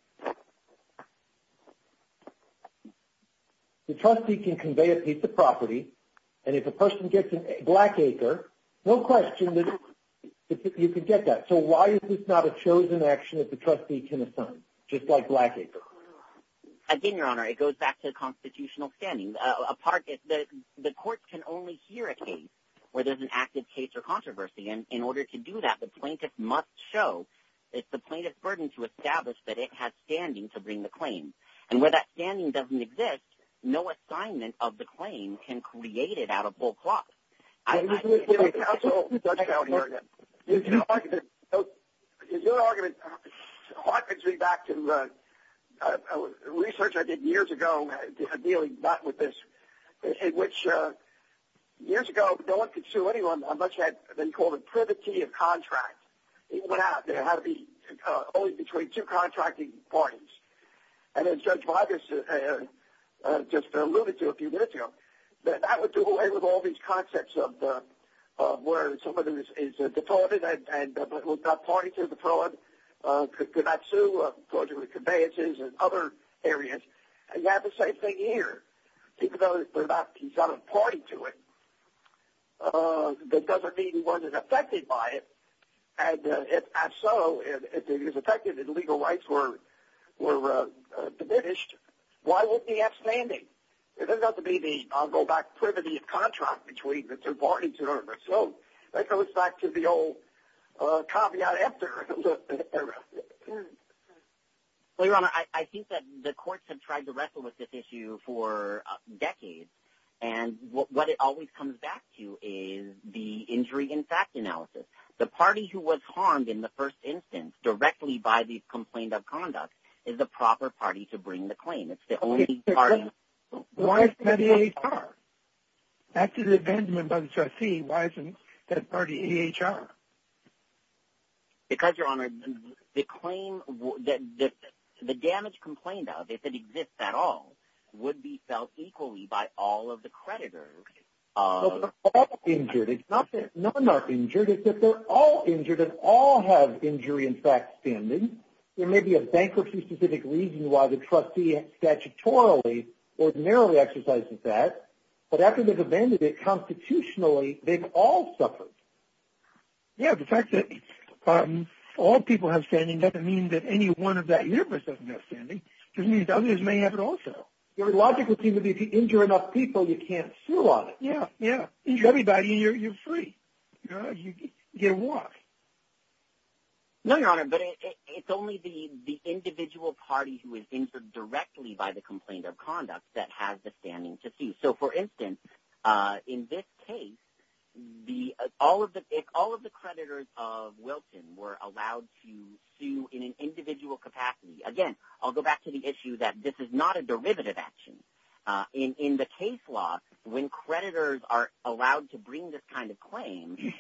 The trustee can convey a piece of property. And if a person gets a black acre, no question. You can get that. So why is this not a chosen action that the trustee can assign just like black acres? Again, your honor, it goes back to the constitutional standing, a part that the courts can only hear a case where there's an active case or controversy. And in order to do that, the plaintiff must show it's the plaintiff's burden to establish that it has standing to bring the claim. And where that standing doesn't exist, no assignment of the claim can create it out of full cloth. Okay. I'm just going to get a counsel. Is your argument, what gets me back to the research I did years ago, dealing back with this, in which years ago, no one could sue anyone unless you had, they called it privity of contract. It went out. There had to be only between two contracting parties. And then judge Boggess just alluded to a few minutes ago, that I would do away with all these concepts of where somebody is deported and was not party to the fraud, could not sue because of conveyances and other areas. And you have the same thing here. Even though he's not a party to it, that doesn't mean he wasn't affected by it. And if so, if he was affected and legal rights were, were diminished, why wouldn't he have standing? It doesn't have to be the, I'll go back to privity of contract between the two parties. So let's go back to the old copy out after. Well, your honor, I think that the courts have tried to wrestle with this issue for decades. And what, what it always comes back to is the injury in fact analysis, the party who was harmed in the first instance directly by the complaint of conduct is the proper party to bring the claim. That's the only part. Why is that? That's an amendment by the trustee. Why isn't that party HR? Because your honor, the claim that the damage complained of, if it exists at all, would be felt equally by all of the creditors. That's injured. It's not that none are injured. It's that they're all injured and all have injury. In fact, there may be a bankruptcy specific reason why the trustee statutorily or narrowly exercises that, but after they've abandoned it constitutionally, they've all suffered. Yeah. The fact that all people have standing doesn't mean that any one of that universe doesn't have standing. It doesn't mean that others may have it also. Your logic would seem to be if you injure enough people, you can't feel on it. Yeah. Everybody you're, you're free. You know, no, your honor, but it's only the, the individual party who is injured directly by the complaint of conduct that has the standing to see. So for instance in this case, the, all of the, if all of the creditors of Wilton were allowed to sue in an individual capacity, again, I'll go back to the issue that this is not a derivative action in, in the case law, when creditors are allowed to bring this kind of claim,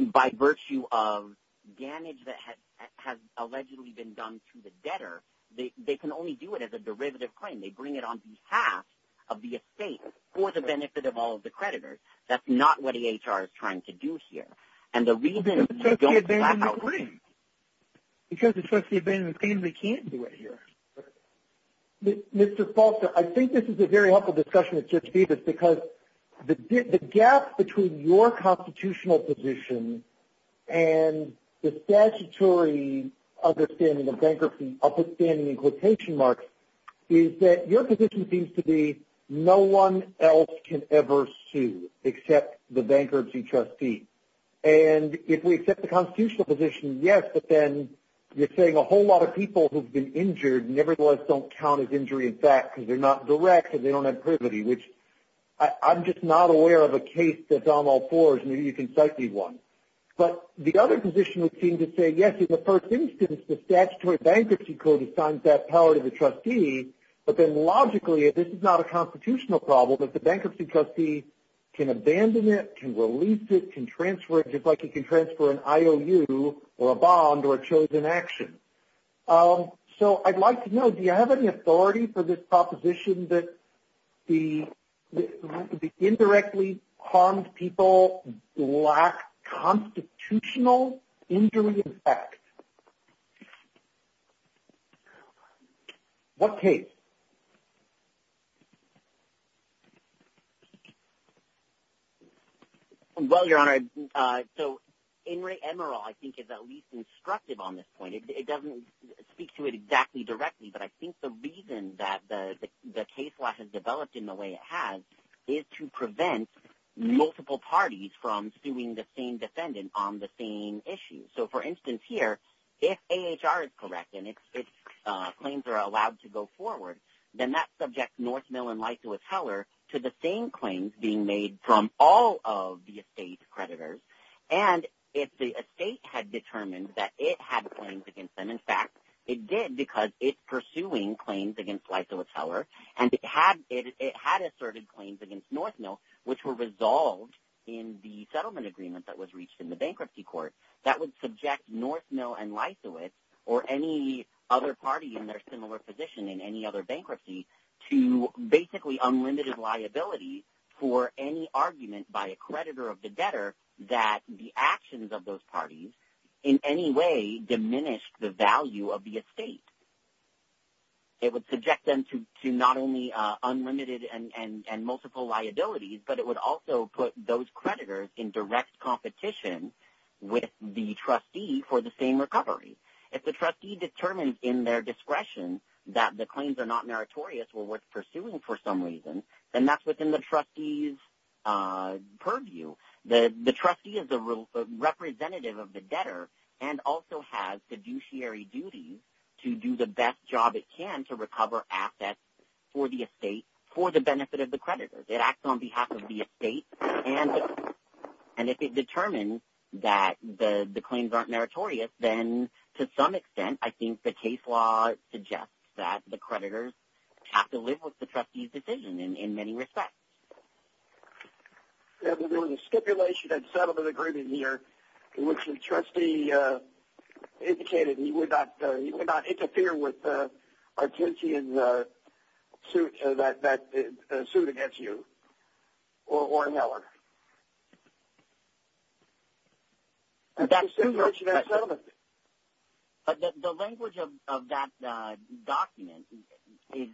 by virtue of damage that has, has allegedly been done to the debtor. They can only do it as a derivative claim. They bring it on behalf of the estate for the benefit of all of the creditors. That's not what the HR is trying to do here. And the reason. Because the trustee abandoned the claim, we can't do it here. Mr. Foster. I think this is a very helpful discussion with just be this because the gap between your constitutional position and the statutory understanding of bankruptcy, I'll put standing in quotation marks is that your position seems to be no one else can ever sue except the bankruptcy trustee. And if we accept the constitutional position, yes, but then you're saying a whole lot of people who've been injured. Nevertheless, don't count as injury in fact, because they're not direct and they don't have privity, which I'm just not aware of a case that's on all fours. Maybe you can cite me one, but the other position would seem to say, yes, in the first instance, the statutory bankruptcy code assigns that power to the trustee. But then logically, if this is not a constitutional problem that the bankruptcy trustee can abandon it, can release it, can transfer it just like you can transfer an IOU or a bond or a chosen action. So I'd like to know, do you have any authority for this proposition that the, the indirectly harmed people, black constitutional injury in fact, what case? Well, your honor. So in Ray Emerald, I think is at least instructive on this point. It doesn't speak to it exactly directly, but I think the reason that the case law has developed in the way it has is to prevent multiple parties from doing the same defendant on the same issue. So for instance, if HR is correct and it's, it's claims are allowed to go forward, then that subject North Mellon, like to a teller to the same claims being made from all of the estate creditors. And if the estate had determined that it had claims against them, in fact, it did because it's pursuing claims against life to a teller. And it had, it had asserted claims against North mill, which were resolved in the settlement agreement that was reached in the bankruptcy court. That would subject North mill and life to it or any other party in their similar position in any other bankruptcy to basically unlimited liability for any argument by a creditor of the debtor, that the actions of those parties in any way diminished the value of the estate. It would subject them to, to not only unlimited and multiple liabilities, but it would also put those creditors in direct competition with the trustee for the same recovery. If the trustee determines in their discretion that the claims are not meritorious or what's pursuing for some reason, then that's within the trustees purview. The trustee is a representative of the debtor and also has fiduciary duties to do the best job it can, to recover assets for the estate for the benefit of the creditors. It acts on behalf of the estate. And if it determines that the claims aren't meritorious, then to some extent, I think the case law suggests that the creditors have to live with the trustees decision in many respects. Yeah, there was a stipulation and settlement agreement here in which the trustee indicated that you would not, you would not interfere with our agency in the suit that, that suit against you or, or Miller. The language of that document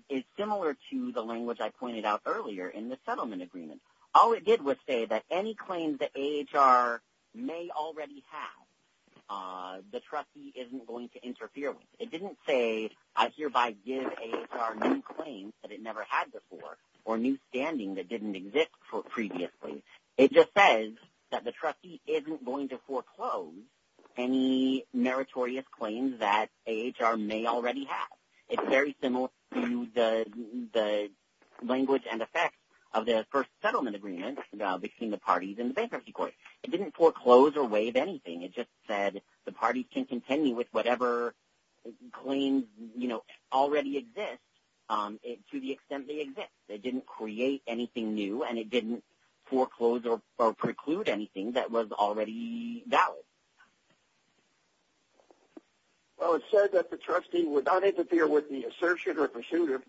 is similar to the language I pointed out earlier in the settlement agreement. All it did was say that any claims that age are may already have, the trustee isn't going to interfere with. It didn't say, I hereby give a claim that it never had before or new standing that didn't exist for previously. It just says that the trustee isn't going to foreclose any meritorious claims that age are may already have. It's very similar to the language and effects of the first settlement agreement between the parties and bankruptcy court. It didn't foreclose or waive anything. It just said the party can continue with whatever claims, you know, already exist to the extent they exist. They didn't create anything new and it didn't foreclose or preclude anything that was already. Well, it said that the trustee would not interfere with the assertion or procedure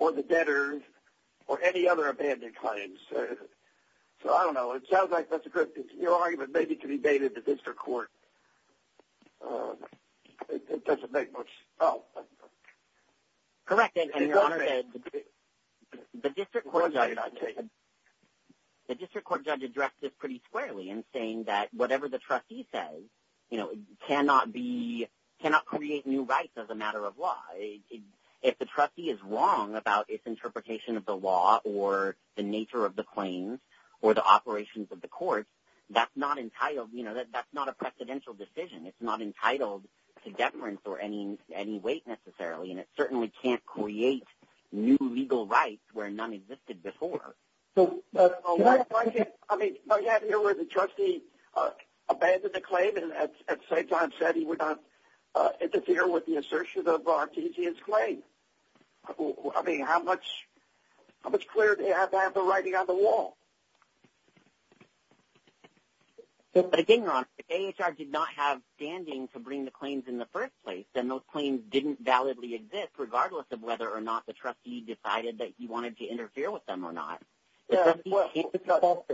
or the debtors or any other abandoned claims. So, I don't know. It sounds like that's a good argument, maybe to be made at the district court. It doesn't make much. Oh, correct. And the district court, the district court judge addressed it pretty squarely. And saying that whatever the trustee says, you know, cannot be, cannot create new rights as a matter of law. If the trustee is wrong about its interpretation of the law or the nature of the claims or the operations of the courts, that's not entitled, you know, that that's not a presidential decision. It's not entitled to deference or any, any weight necessarily. And it certainly can't create new legal rights where none existed before. I mean, I can't hear where the trustee abandoned the claim. And at the same time, said he would not interfere with the assertion of our TGS claim. I mean, how much, how much clearer do you have to have the writing on the wall? But again, Ross did not have standing to bring the claims in the first place. Then those claims didn't validly exist, regardless of whether or not the trustee decided that he wanted to Yeah. Why do you think the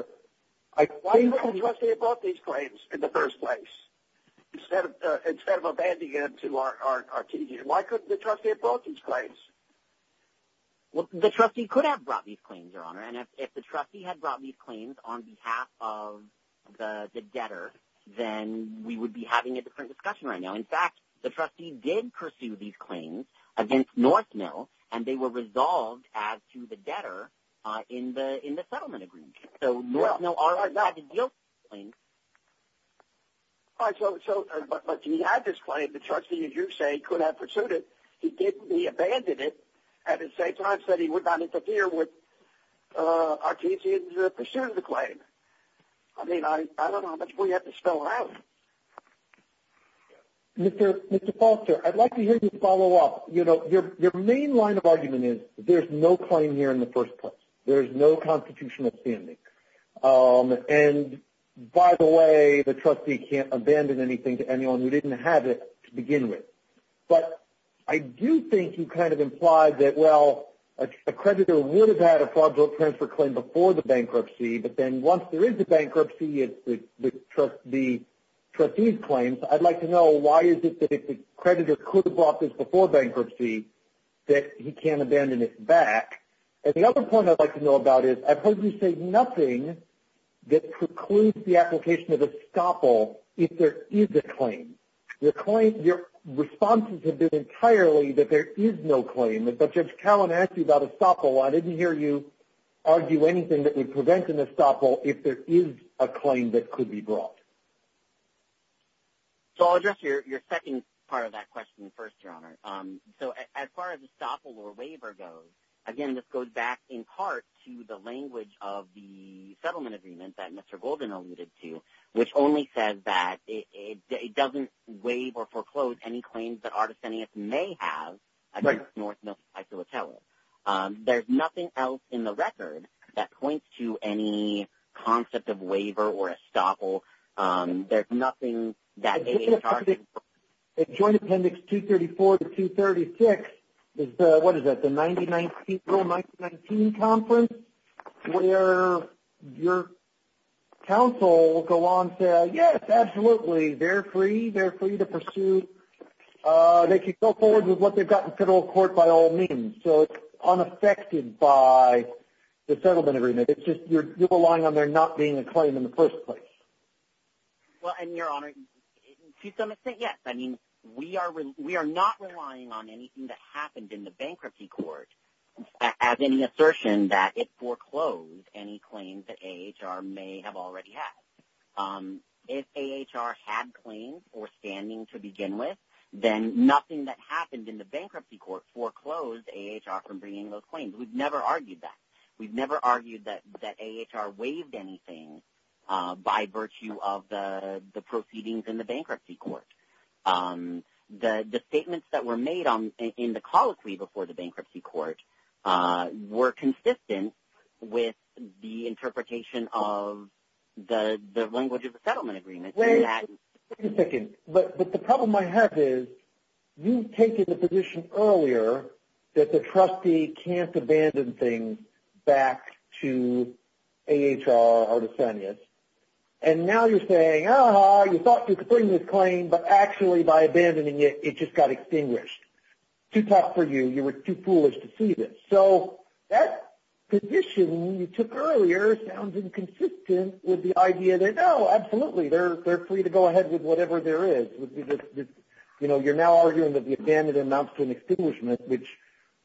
trustee brought these claims in the first place? Instead of, instead of abandoning it to our, our TGS, why couldn't the trustee have brought these claims? Well, the trustee could have brought these claims, your honor. And if, if the trustee had brought these claims on behalf of the debtor, then we would be having a different discussion right now. In fact, the trustee did pursue these claims against North mill, and they were resolved as to the debtor in the, in the settlement agreement. So no, no. All right. So, so, but, but he had this claim, the trustee, as you say, could have pursued it. He didn't, he abandoned it at the same time, said he would not interfere with our TGS pursuit of the claim. I mean, I, I don't know how much we have to spell out. Mr. Mr. Foster, I'd like to hear you follow up. You know, your, your main line of argument is there's no claim here in the first place. There's no constitutional standing. And by the way, the trustee can't abandon anything to anyone who didn't have it to begin with. But I do think you kind of implied that, well, a creditor would have had a fraudulent transfer claim before the bankruptcy, but then once there is a bankruptcy, it's the trustee, trustee's claims. I'd like to know why is it that if the creditor could have brought this before bankruptcy, that he can't abandon it back. And the other point I'd like to know about is I've heard you say nothing that precludes the application of a stopple. If there is a claim, your client, your responses have been entirely that there is no claim. But judge Cowan asked you about a stopple. I didn't hear you argue anything that would prevent an estoppel. If there is a claim that could be brought. So I'll address your, your second part of that question first, your honor. So as far as estoppel or waiver goes, again, this goes back in part to the language of the settlement agreement that Mr. Golden alluded to, which only says that it doesn't waive or foreclose any claims that artists sending us may have. I think it's more. I feel a tell. There's nothing else in the record that points to any concept of waiver or estoppel. There's nothing. At joint appendix 234 to 236. What is that? The 90, 19 conference where your counsel will go on. Yes, absolutely. They're free. They're free to pursue. They can go forward with what they've got in federal court by all means. So it's unaffected by the settlement agreement. It's just, you're relying on there not being a claim in the first place. Well, and your honor, to some extent, yes. I mean, we are, we are not relying on anything that happened in the bankruptcy court as any assertion that it foreclosed any claims that HR may have already had. If HR had claims or standing to begin with, then nothing that happened in the bankruptcy court foreclosed HR from bringing those claims. We've never argued that. We've never argued that, that HR waived anything by virtue of the, the proceedings in the bankruptcy court. The, the statements that were made on in the colloquy before the bankruptcy court were consistent with the interpretation of the, the language of the settlement agreement. Wait a second. But the problem I have is you've taken the position earlier that the bankruptcy court foreclosed any claims that HR may have already had. And now you're saying, Oh, you thought you could bring this claim, but actually by abandoning it, it just got extinguished. To talk for you. You were too foolish to see this. So that condition you took earlier sounds inconsistent with the idea that, Oh, absolutely. They're, they're free to go ahead with whatever there is. You know, you're now arguing that the abandoned announced an extinguishment, which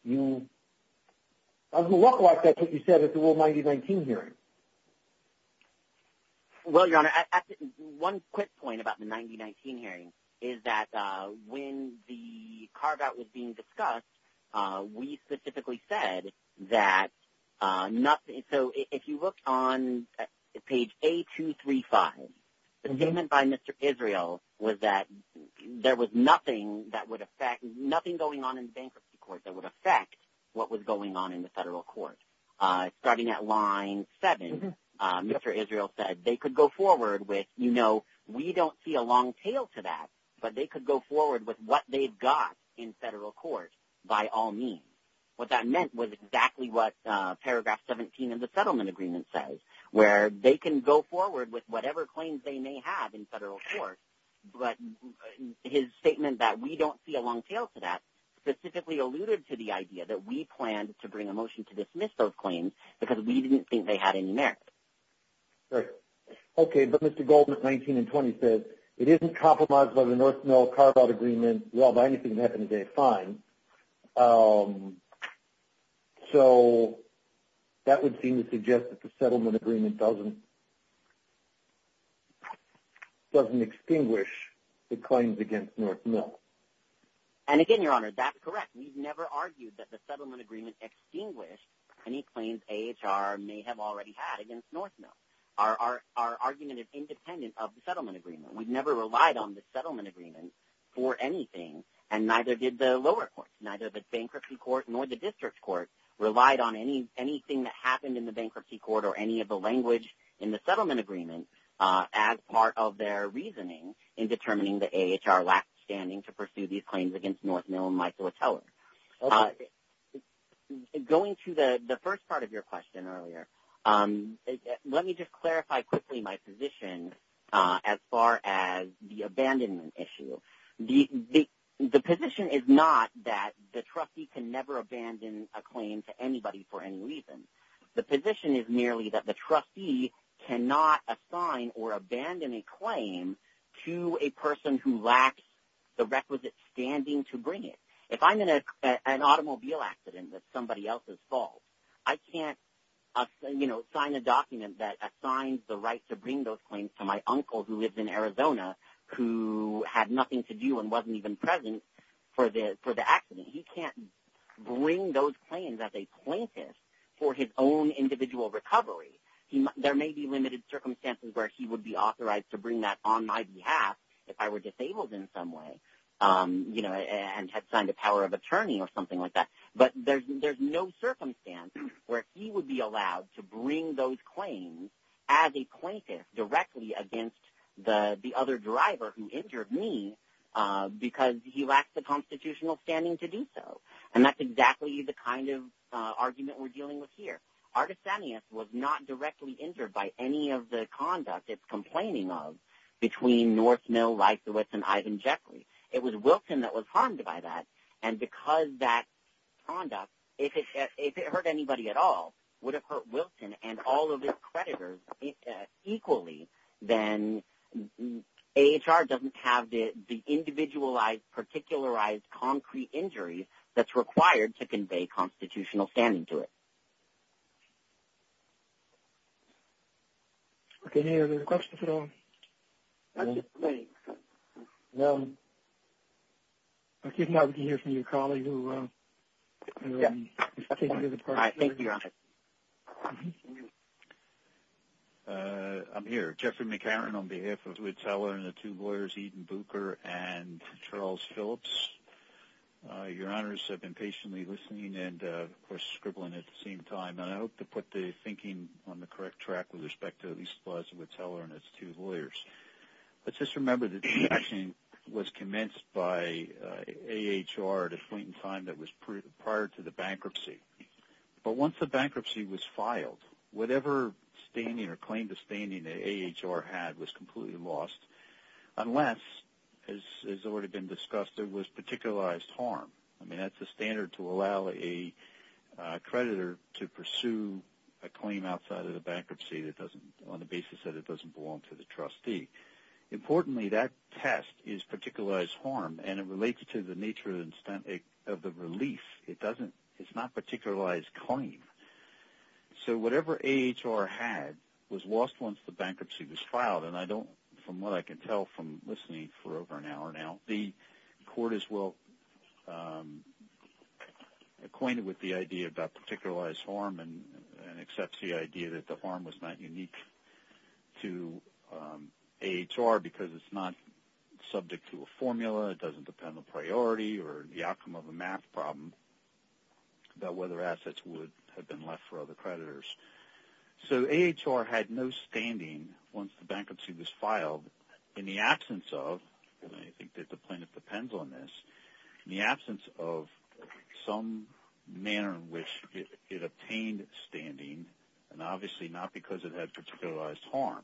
you, I've looked like that's what you said at the world. Why did you bring hearing? Well, you want to add one quick point about the 99 hearing is that when the carve out was being discussed, we specifically said that nothing. So if you look on page a two, three five payment by Mr. Israel was that there was nothing that would affect nothing going on in the bankruptcy court that would affect what was going on in the federal court. Starting at line seven, Mr. Israel said they could go forward with, you know, we don't see a long tail to that, but they could go forward with what they've got in federal court by all means. What that meant was exactly what paragraph 17 of the settlement agreement says, where they can go forward with whatever claims they may have in federal court. But his statement that we don't see a long tail to that specifically alluded to the idea that we planned to bring a motion to dismiss those claims because we didn't think they had any merit. Okay. But Mr. Goldman 19 and 20 says it isn't compromised by the North mill carve out agreement. Well, by anything that happens, they find. So that would seem to suggest that the settlement agreement doesn't doesn't extinguish the claims against North mill. And again, your honor that's correct. We've never argued that the settlement agreement extinguished any claims. HR may have already had against North. No, our, our, our argument is independent of the settlement agreement. We've never relied on the settlement agreement for anything. And neither did the lower courts, neither the bankruptcy court, nor the district court relied on any, anything that happened in the bankruptcy court or any of the language in the settlement agreement as part of their reasoning in determining the HR last standing to pursue these claims against North mill. And Michael was telling going to the, the first part of your question earlier, let me just clarify quickly my position as far as the abandonment issue, the, the position is not that the trustee can never abandon a claim to anybody for any reason. The position is merely that the trustee cannot assign or abandon a claim to a person who lacks the requisite standing to bring it. If I'm in an automobile accident, that's somebody else's fault. I can't say, you know, sign a document that assigns the right to bring those claims to my uncle who lives in Arizona, who had nothing to do and wasn't even present for the, for the accident. He can't bring those claims as a plaintiff for his own individual recovery. He, there may be limited circumstances where he would be authorized to bring that on my behalf. If I were disabled in some way, you know, and had signed a power of attorney or something like that, but there's, there's no circumstance where he would be allowed to bring those claims as a plaintiff directly against the, the other driver who injured me because he lacks the constitutional standing to do so. And that's exactly the kind of argument we're dealing with here. Artisanias was not directly injured by any of the conduct it's complaining of between North mill, life, the West and Ivan Jekyll. It was Wilton that was harmed by that. And because that conduct, if it hurt anybody at all, would have hurt Wilson and all of his creditors equally. Then HR doesn't have the individualized particularized concrete injuries. That's required to convey constitutional standing to it. Okay. Any other questions at all? I did not hear from your colleague. I'm here, Jeffrey McCarran on behalf of the two lawyers, Eden Booker and Charles Phillips. Your honors have been patiently listening and we're scribbling at the same time. And I hope to put the thinking on the correct track with respect to these slides, it would tell her and it's two lawyers. Let's just remember that the action was commenced by a HR at a point in time that was prior to the bankruptcy. But once the bankruptcy was filed, whatever standing or claim to standing the HR had was completely lost. Unless as, as it would have been discussed, there was particularized harm. I mean, that's the standard to allow a creditor to pursue a claim outside of the bankruptcy. That doesn't on the basis that it doesn't belong to the trustee. Importantly, that test is particularized harm and it relates to the nature of the incentive of the relief. It doesn't, it's not particularized claim. So whatever HR had was lost once the bankruptcy was filed. And I don't, from what I can tell from listening for over an hour now, the court is well acquainted with the idea about particularized harm and accepts the idea that the harm was not unique to HR because it's not subject to a formula. It doesn't depend on priority or the outcome of a math problem about whether assets would have been left for other creditors. So HR had no standing once the bankruptcy was filed in the absence of, and I think that the plaintiff depends on this, the absence of some manner in which it obtained standing and obviously not because it has particularized harm.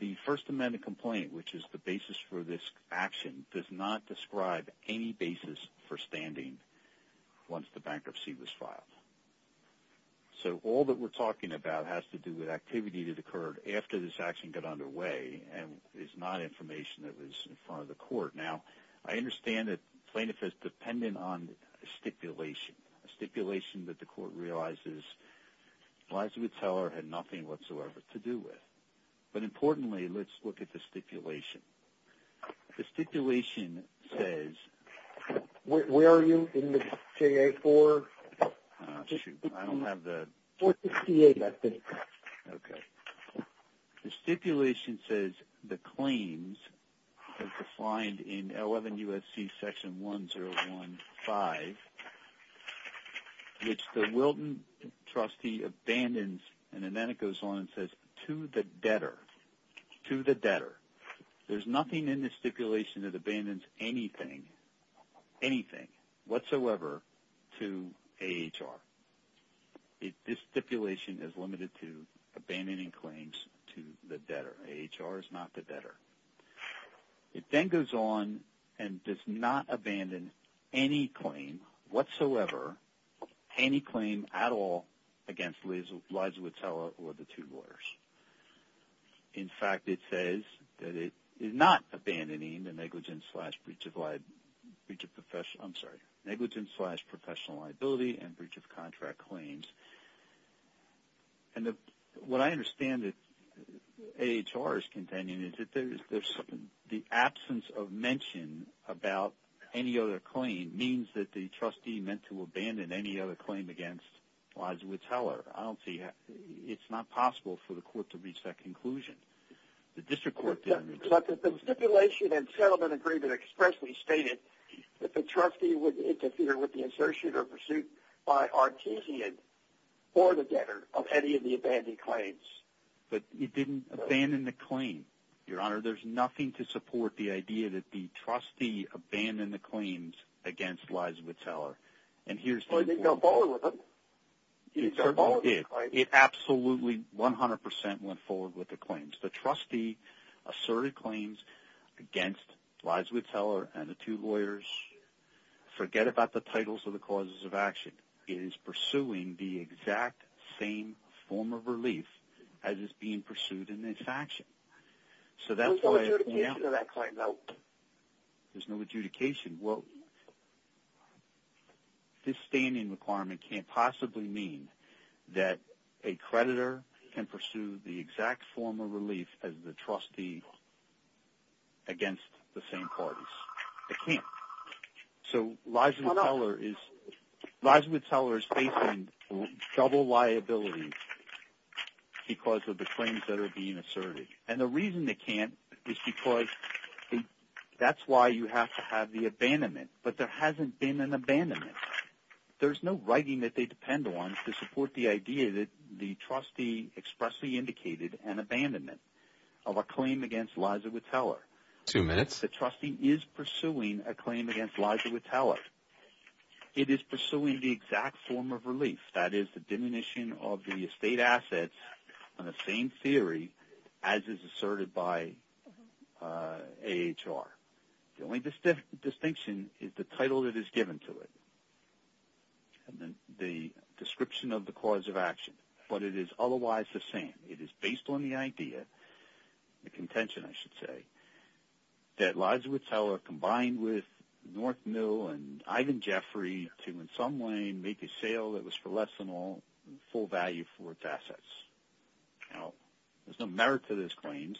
The first amendment complaint, which is the basis for this action does not describe any basis for standing once the bankruptcy was filed. So all that we're talking about has to do with activity that occurred after this action got underway. And it's not information that was in front of the court. Now I understand that plaintiff is dependent on a stipulation, a stipulation that the court realizes Elizabeth Teller had nothing whatsoever to do with. But importantly, let's look at the stipulation. The stipulation says, where are you in the CA4? I don't have the, 468 I think. Okay. The stipulation says the claims are defined in L11 USC section 1015, which the Wilton trustee abandons. And then it goes on and says to the debtor, to the debtor, there's nothing in the stipulation that abandons anything, anything whatsoever to AHR. This stipulation is limited to abandoning claims to the debtor. AHR is not the debtor. It then goes on and does not abandon any claim whatsoever, any claim at all against Liz, Liza with Teller or the two lawyers. In fact, it says that it is not abandoning the negligence slash breach of, I'm sorry, negligence slash professional liability and breach of contract claims. And what I understand that AHR is containing is that there's, the absence of mention about any other claim means that the trustee meant to abandon any other claim against Liza with Teller. I don't see it. It's not possible for the court to reach that conclusion. The district court. The stipulation and settlement agreement expressly stated that the trustee would interfere with the associate or pursuit by Artesian or the debtor of any of the abandoned claims. But you didn't abandon the claim. Your honor, there's nothing to support the idea that the trustee abandoned the claims against Liza with Teller. And here's the, it absolutely 100% went forward with the claims. Because the trustee asserted claims against Liza with Teller and the two lawyers, forget about the titles of the causes of action is pursuing the exact same form of relief as is being pursued in this action. So that's why. There's no adjudication. Well, this standing requirement can't possibly mean that a creditor can pursue the relief of the trustee against the same parties. I can't. So Liza with Teller is facing double liability because of the claims that are being asserted. And the reason they can't is because that's why you have to have the abandonment, but there hasn't been an abandonment. There's no writing that they depend on to support the idea that the trustee expressly indicated an abandonment of a claim against Liza with Teller. Two minutes. The trustee is pursuing a claim against Liza with Teller. It is pursuing the exact form of relief. That is the diminution of the estate assets on the same theory as is asserted by a HR. The only distinct distinction is the title that is given to it. And then the description of the cause of action, but it is otherwise the same. It is based on the idea, the contention, I should say that Liza with Teller combined with North Mill and Ivan Jeffrey to in some way make a sale that was for less than all full value for its assets. Now there's no merit to this claims.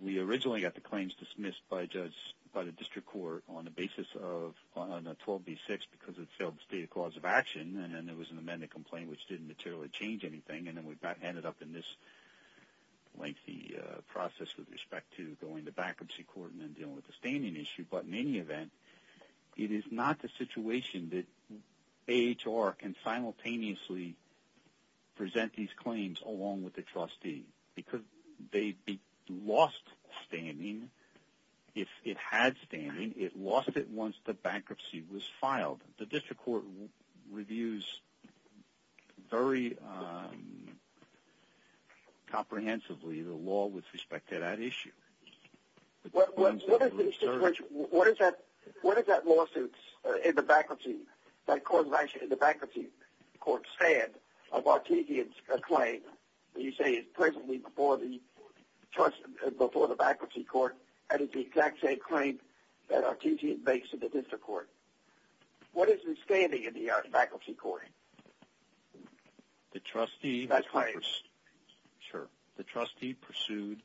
We originally got the claims dismissed by judge, by the district court on the basis of on a 12 B six, because it failed to state a cause of action. And then there was an amendment complaint, which didn't materially change anything. And then we got headed up in this lengthy process with respect to going to bankruptcy court and then dealing with the standing issue. But in any event, it is not the situation that HR can simultaneously present these claims along with the trustee because they lost standing. If it has standing, it lost it. Once the bankruptcy was filed, the district court reviews very comprehensively. The law with respect to that issue. What is that? What is that lawsuit in the bankruptcy? That court is actually in the bankruptcy court stand of our TV. It's a claim that you say is presently before the trust before the bankruptcy court. And it's the exact same claim that our team makes it to the district court. What is in standing in the bankruptcy court? The trustee. Sure. The trustee pursued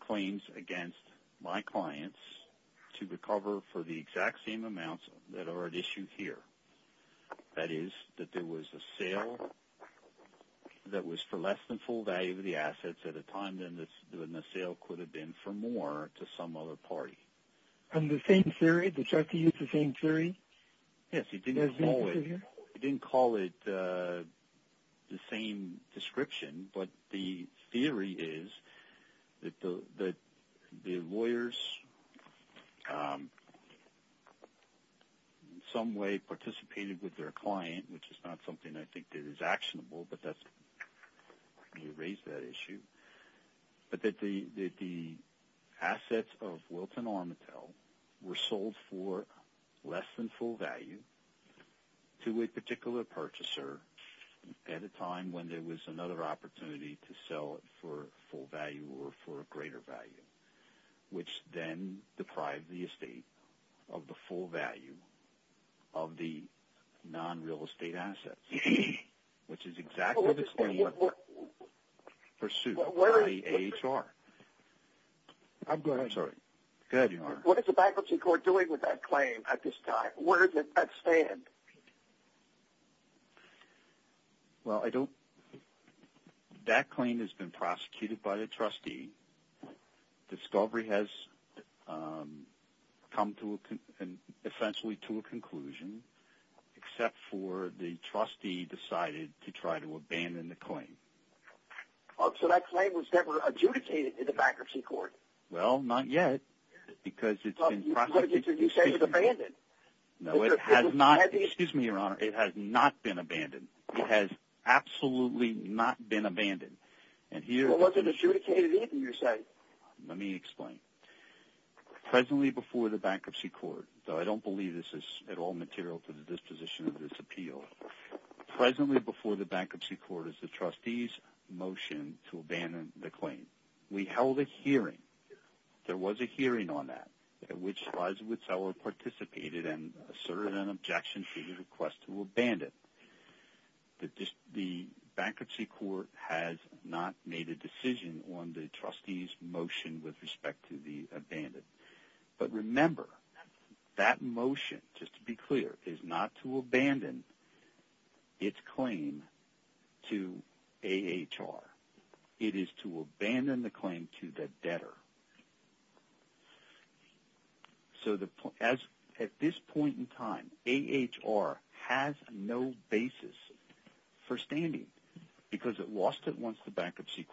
claims against my clients to recover for the exact same amounts that are at issue here. That is that there was a sale that was for less than full value of the assets at a time. Then the sale could have been for more to some other party. And the same theory, the trustee is the same theory. Yes. He didn't call it the same description, but the theory is that the lawyers some way participated with their client, which is not something I think that is actionable, but that's raised that issue. But that the assets of Wilton Armatel were sold for less than full value to a particular purchaser at a time when there was another opportunity to sell for full value or for a greater value, which then deprived the estate of the full value of the non real estate assets, which is exactly the same pursuit. I'm sorry. What is the bankruptcy court doing with that claim at this time? Where does that stand? Well, I don't. That claim has been prosecuted by the trustee. Discovery has come to an essentially to a conclusion, except for the trustee decided to try to abandon the claim. So that claim was never adjudicated in the bankruptcy court. Well, not yet, because it's in process. You say it's abandoned. No, it has not. Excuse me, Your Honor. It has not been abandoned. It has absolutely not been abandoned. It wasn't adjudicated either, you say. Let me explain. Presently before the bankruptcy court, though I don't believe this is at all material to the disposition of this appeal. Presently before the bankruptcy court is the trustee's motion to abandon the claim. We held a hearing. There was a hearing on that, which was with seller participated and asserted an objection to your request to abandon. The bankruptcy court has not made a decision on the trustee's motion with respect to the abandoned. But remember, that motion, just to be clear, is not to abandon its claim to AHR. It is to abandon the claim to the debtor. So at this point in time, AHR has no basis for standing, because it lost it once the bankruptcy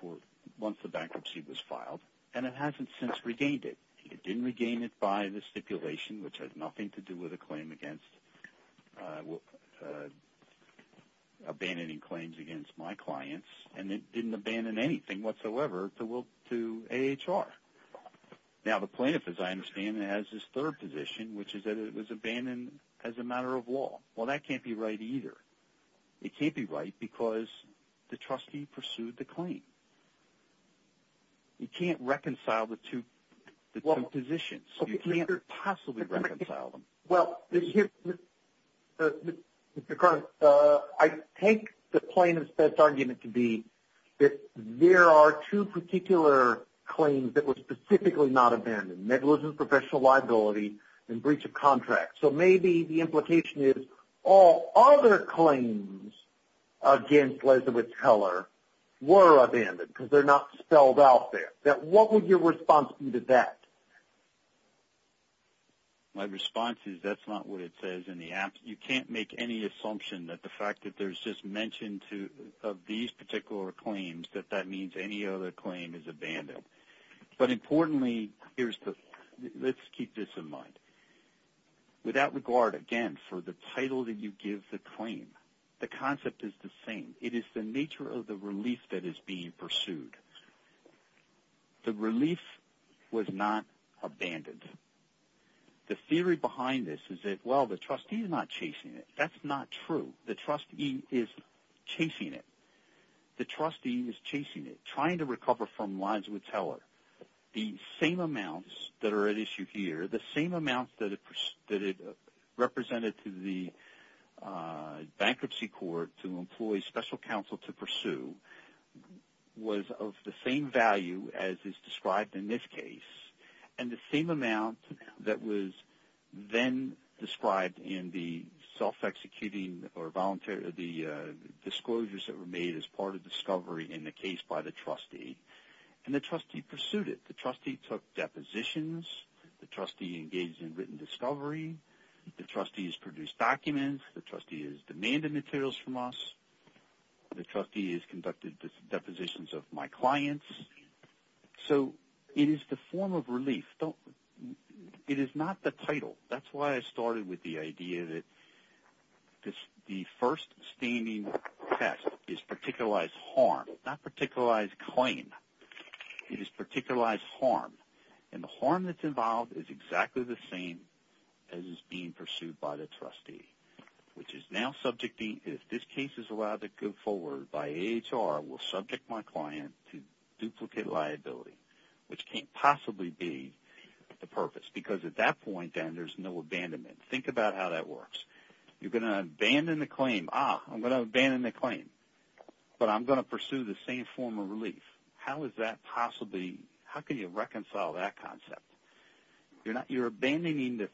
was filed, and it hasn't since regained it. It didn't regain it by the stipulation, which has nothing to do with abandoning claims against my clients, and it didn't abandon anything whatsoever to AHR. Now the plaintiff, as I understand, has his third position, which is that it was abandoned as a matter of law. Well, that can't be right either. It can't be right because the trustee pursued the claim. You can't reconcile the two positions. You can't possibly reconcile them. Well, Mr. Cronin, I take the plaintiff's best argument to be that there are two particular claims that were specifically not abandoned, negligence of professional liability and breach of contract. So maybe the implication is all other claims against Liza Whitteller were abandoned because they're not spelled out there. What would your response be to that? My response is that's not what it says in the act. You can't make any assumption that the fact that there's just mention of these particular claims, that that means any other claim is abandoned. But importantly, let's keep this in mind. With that regard, again, for the title that you give the claim, the concept is the same. It is the nature of the relief that is being pursued. The relief was not abandoned. The theory behind this is that, well, the trustee is not chasing it. That's not true. The trustee is chasing it. The trustee is chasing it, trying to recover from Liza Whitteller. The same amounts that are at issue here, the same amounts that it represented to the bankruptcy court to employ special counsel to pursue was of the same value as is described in this case. And the same amount that was then described in the self-executing or the disclosures that were made as part of discovery in the case by the trustee. And the trustee pursued it. The trustee took depositions. The trustee engaged in written discovery. The trustee has produced documents. The trustee has demanded materials from us. The trustee has conducted depositions of my clients. So it is the form of relief. It is not the title. That's why I started with the idea that the first standing test is particularized harm, not particularized claim. It is particularized harm. And the harm that's involved is exactly the same as is being pursued by the trustee, which is now subjecting, if this case is allowed to go forward by AHR, will subject my client to duplicate liability, which can't possibly be the purpose, because at that point then there's no abandonment. Think about how that works. You're going to abandon the claim. Ah, I'm going to abandon the claim, but I'm going to pursue the same form of relief. How is that possibly, how can you reconcile that concept? You're abandoning,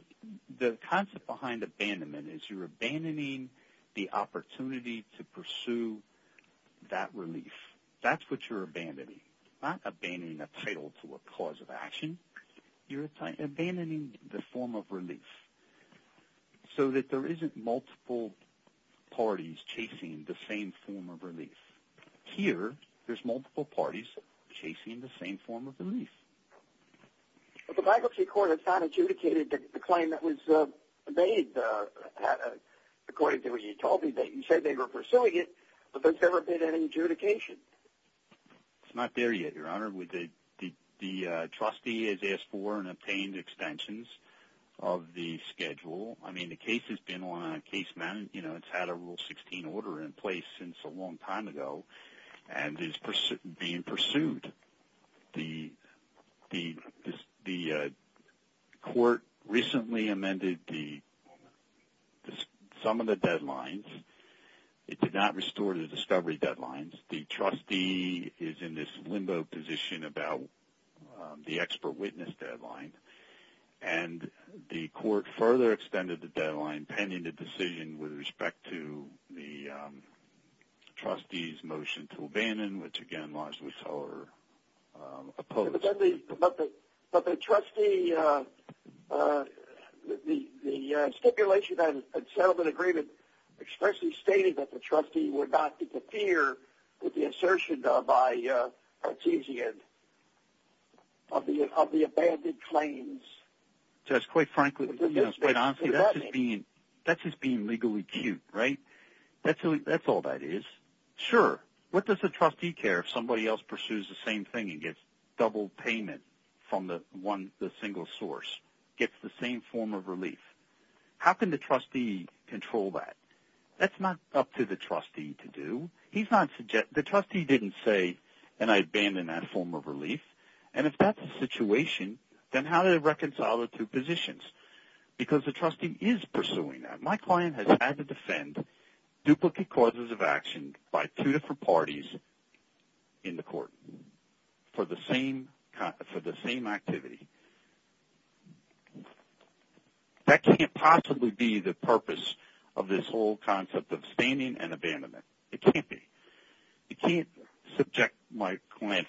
the concept behind abandonment is you're abandoning the opportunity to pursue that relief. That's what you're abandoning. You're not abandoning the title to a cause of action. You're abandoning the form of relief so that there isn't multiple parties Here there's multiple parties chasing the same form of relief. But the bankruptcy court has not adjudicated the claim that was made according to what you told me. You said they were pursuing it, but there's never been an adjudication. It's not there yet, Your Honor. The trustee has asked for and obtained extensions of the schedule. I mean, the case has been on casement. It's had a Rule 16 order in place since a long time ago and is being pursued. The court recently amended some of the deadlines. It did not restore the discovery deadlines. The trustee is in this limbo position about the expert witness deadline. And the court further extended the deadline pending the decision with respect to the trustee's motion to abandon, which, again, lies with our opposition. But the trustee, the stipulation on settlement agreement expressly stated that the trustee would not interfere with the assertion by a partizan of the abandoned claims. Just quite frankly, quite honestly, that's just being legally cute, right? That's all that is. Sure, what does the trustee care if somebody else pursues the same thing and gets double payment from the single source, gets the same form of relief? How can the trustee control that? That's not up to the trustee to do. The trustee didn't say, and I abandon that form of relief. And if that's the situation, then how do they reconcile the two positions? Because the trustee is pursuing that. My client has had to defend duplicate causes of action by two different parties in the court for the same activity. That can't possibly be the purpose of this whole concept of standing and abandonment. It can't be. You can't subject my client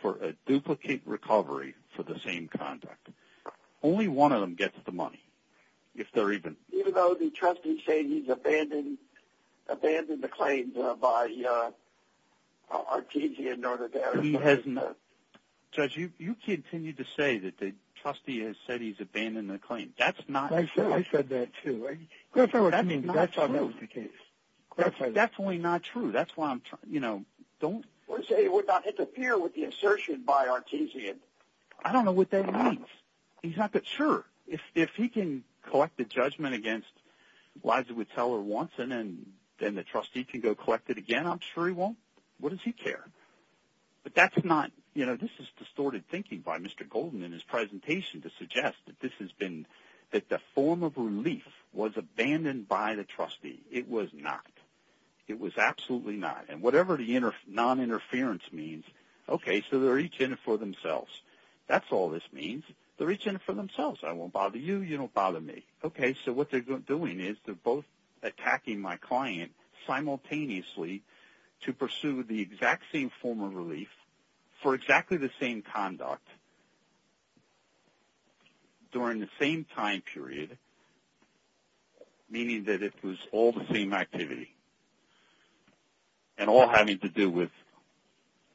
for a duplicate recovery for the same conduct. Only one of them gets the money, if they're even... He hasn't abandoned the claim by Artesian or the other parties. He has not. Judge, you continue to say that the trustee has said he's abandoned the claim. That's not true. I said that too. That's only not true. That's why I'm trying... Or say he would not interfere with the assertion by Artesian. I don't know what that means. He's not that sure. If he can collect the judgment against Liza Whittle or Watson and then the trustee can go collect it again, I'm sure he won't. What does he care? But that's not... This is distorted thinking by Mr. Golden in his presentation to suggest that the form of relief was abandoned by the trustee. It was not. It was absolutely not. Whatever the noninterference means, okay, so they're each in it for themselves. That's all this means. They're each in it for themselves. What they're doing is they're both attacking my client simultaneously to pursue the exact same form of relief for exactly the same conduct during the same time period, meaning that it was all the same activity and all having to do with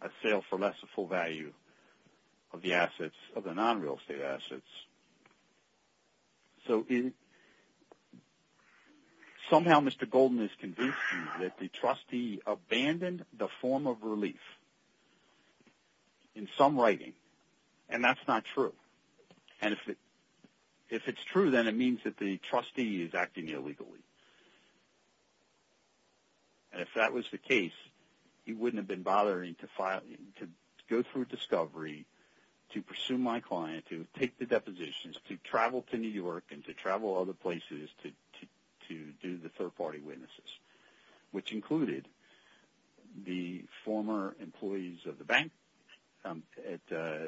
a sale for less than full value of the assets, of the non-real estate assets. So somehow Mr. Golden is convinced that the trustee abandoned the form of relief in some writing, and that's not true. And if it's true, then it means that the trustee is acting illegally. And if that was the case, he wouldn't have been bothering to go through discovery to pursue my client, to take the depositions, to travel to New York and to travel other places to do the third-party witnesses, which included the former employees of the bank at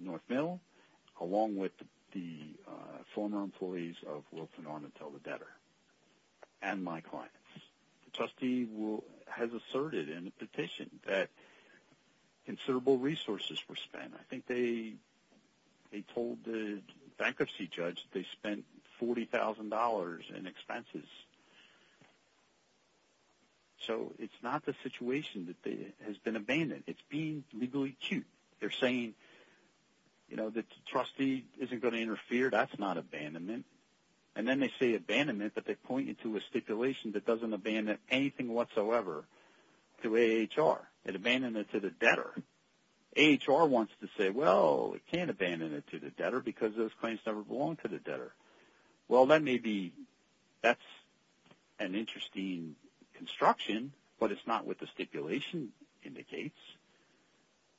North Mill, along with the former employees of Wilfrid Armentola Debtor and my client. The trustee has asserted in a petition that considerable resources were spent. I think they told the bankruptcy judge they spent $40,000 in expenses. So it's not the situation that has been abandoned. It's being legally acute. They're saying, you know, the trustee isn't going to interfere. That's not abandonment. And then they say abandonment, but they point you to a stipulation that doesn't abandon anything whatsoever to AHR. It abandoned it to the debtor. AHR wants to say, well, it can't abandon it to the debtor because those claims never belong to the debtor. Well, that may be, that's an interesting construction, but it's not what the stipulation indicates.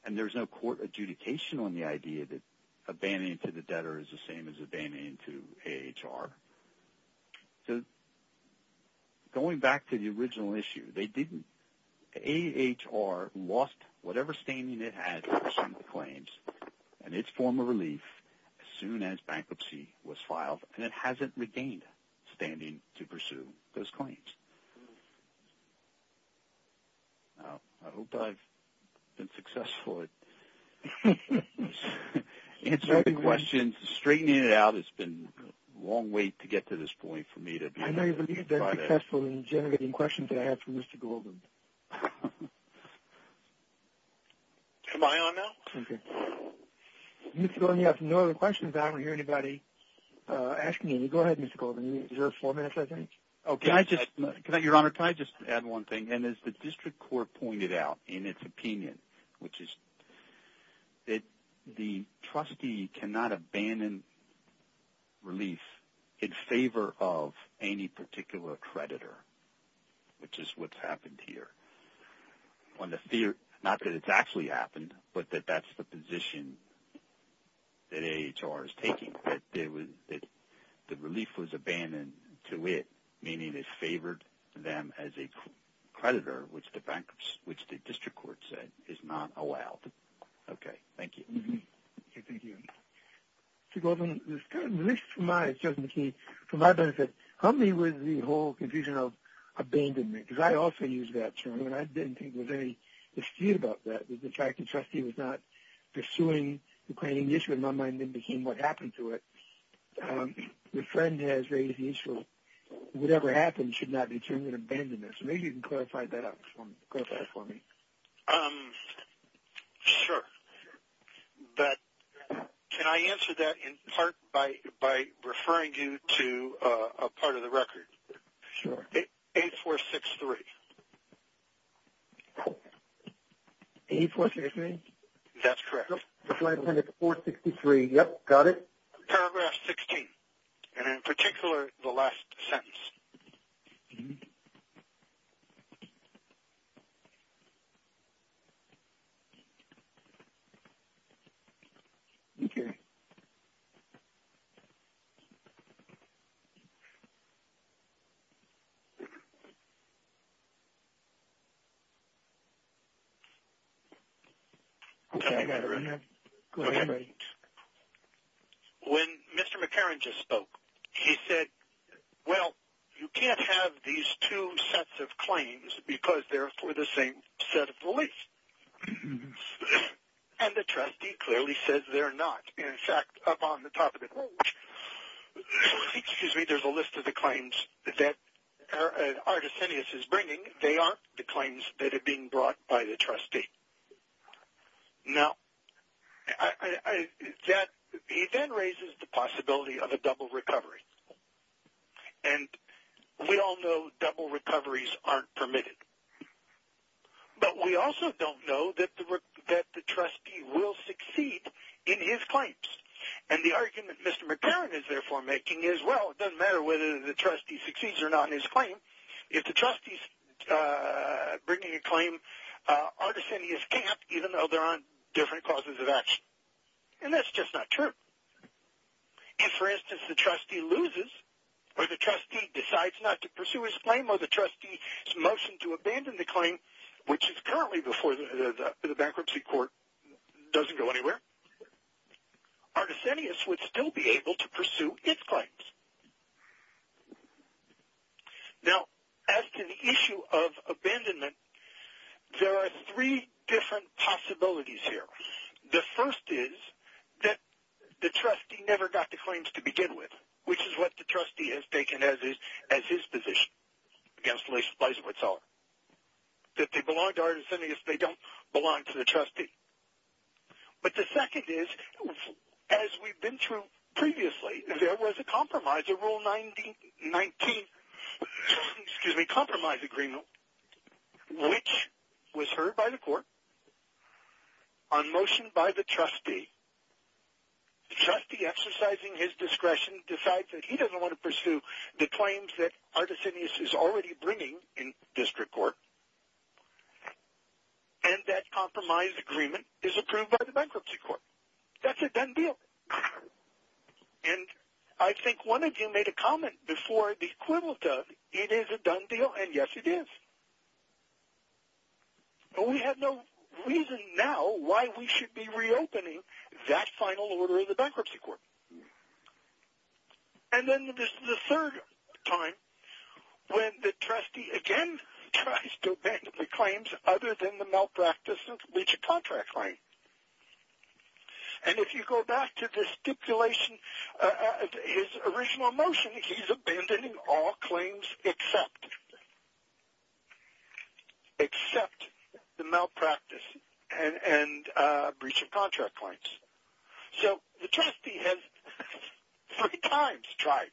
And there's no court adjudication on the idea that abandoning to the debtor is the same as abandoning to AHR. So going back to the original issue, they didn't. AHR lost whatever standing it had over some of the claims and it's form of relief as soon as bankruptcy was filed and it hasn't regained standing to pursue those claims. I hope I've been successful at answering the questions. Straightening it out has been a long way to get to this point for me to be able to clarify that. I know you've been successful in generating questions I have for Mr. Goldman. Am I on now? Okay. Mr. Goldman, you have no other questions and I don't hear anybody asking any. Go ahead, Mr. Goldman. Is there four minutes, I think? Can I just, Your Honor, can I just add one thing? And as the district court pointed out in its opinion, which is that the trustee cannot abandon relief in favor of any particular creditor, which is what's happened here. Not that it's actually happened, but that that's the position that AHR is taking, that the relief was abandoned to it, meaning it favored them as a creditor, which the district court said is not allowed. Okay, thank you. Thank you. Mr. Goldman, it was kind of malicious of my, for my benefit, help me with the whole confusion of abandonment, because I often use that term and I didn't think there was any dispute about that, with the fact the trustee was not pursuing the planning issue in my mind and then became what happened to it. The friend has raised the issue that whatever happens should not be termed an abandonment. So maybe you can clarify that for me. Sure. But can I answer that in part by referring you to a part of the record? Sure. 8463. 8463? That's correct. 463, yep, got it. Paragraph 16, and in particular, the last sentence. Okay. Okay. Okay, I got it right now. Go ahead, everybody. When Mr. McCarron just spoke, he said, well, you can't have these two sets of claims because they're for the same set of beliefs. And the trustee clearly says they're not. In fact, up on the top of the page, excuse me, there's a list of the claims that Artesinius is bringing. They aren't the claims that are being brought by the trustee. Now, he then raises the possibility of a double recovery. And we all know double recoveries aren't permitted. But we also don't know that the trustee will succeed or fail in his claims. And the argument Mr. McCarron is therefore making is, well, it doesn't matter whether the trustee succeeds or not in his claim. If the trustee's bringing a claim, Artesinius can't, even though there are different causes of action. And that's just not true. If, for instance, the trustee loses or the trustee decides not to pursue his claim or the trustee's motioned to abandon the claim, which is currently before the bankruptcy court, doesn't go anywhere, Artesinius would still be able to pursue his claims. Now, as to the issue of abandonment, there are three different possibilities here. The first is that the trustee never got the claims to begin with, which is what the trustee has taken as his position against Liza Witzel. If they belong to Artesinius, they don't belong to the trustee. But the second is as we've been through previously, there was a compromise, a rule 19, excuse me, compromise agreement, which was heard by the court on motion by the trustee. The trustee, exercising his discretion, decides that he doesn't want to pursue the claims that Artesinius is already bringing in district court. And that compromise agreement is approved by the bankruptcy court. That's a done deal. And I think one of you made a comment before the equivalent of, it is a done deal, and yes it is. But we have no reason now why we should be reopening that final order of the bankruptcy court. And then there's the third time when the trustee again tries to abandon the claims other than the malpractice and breach of contract claim. And if you go back to the stipulation of his original motion, he's abandoning all claims except, except the malpractice and breach of contract claims. So the trustee has three times tried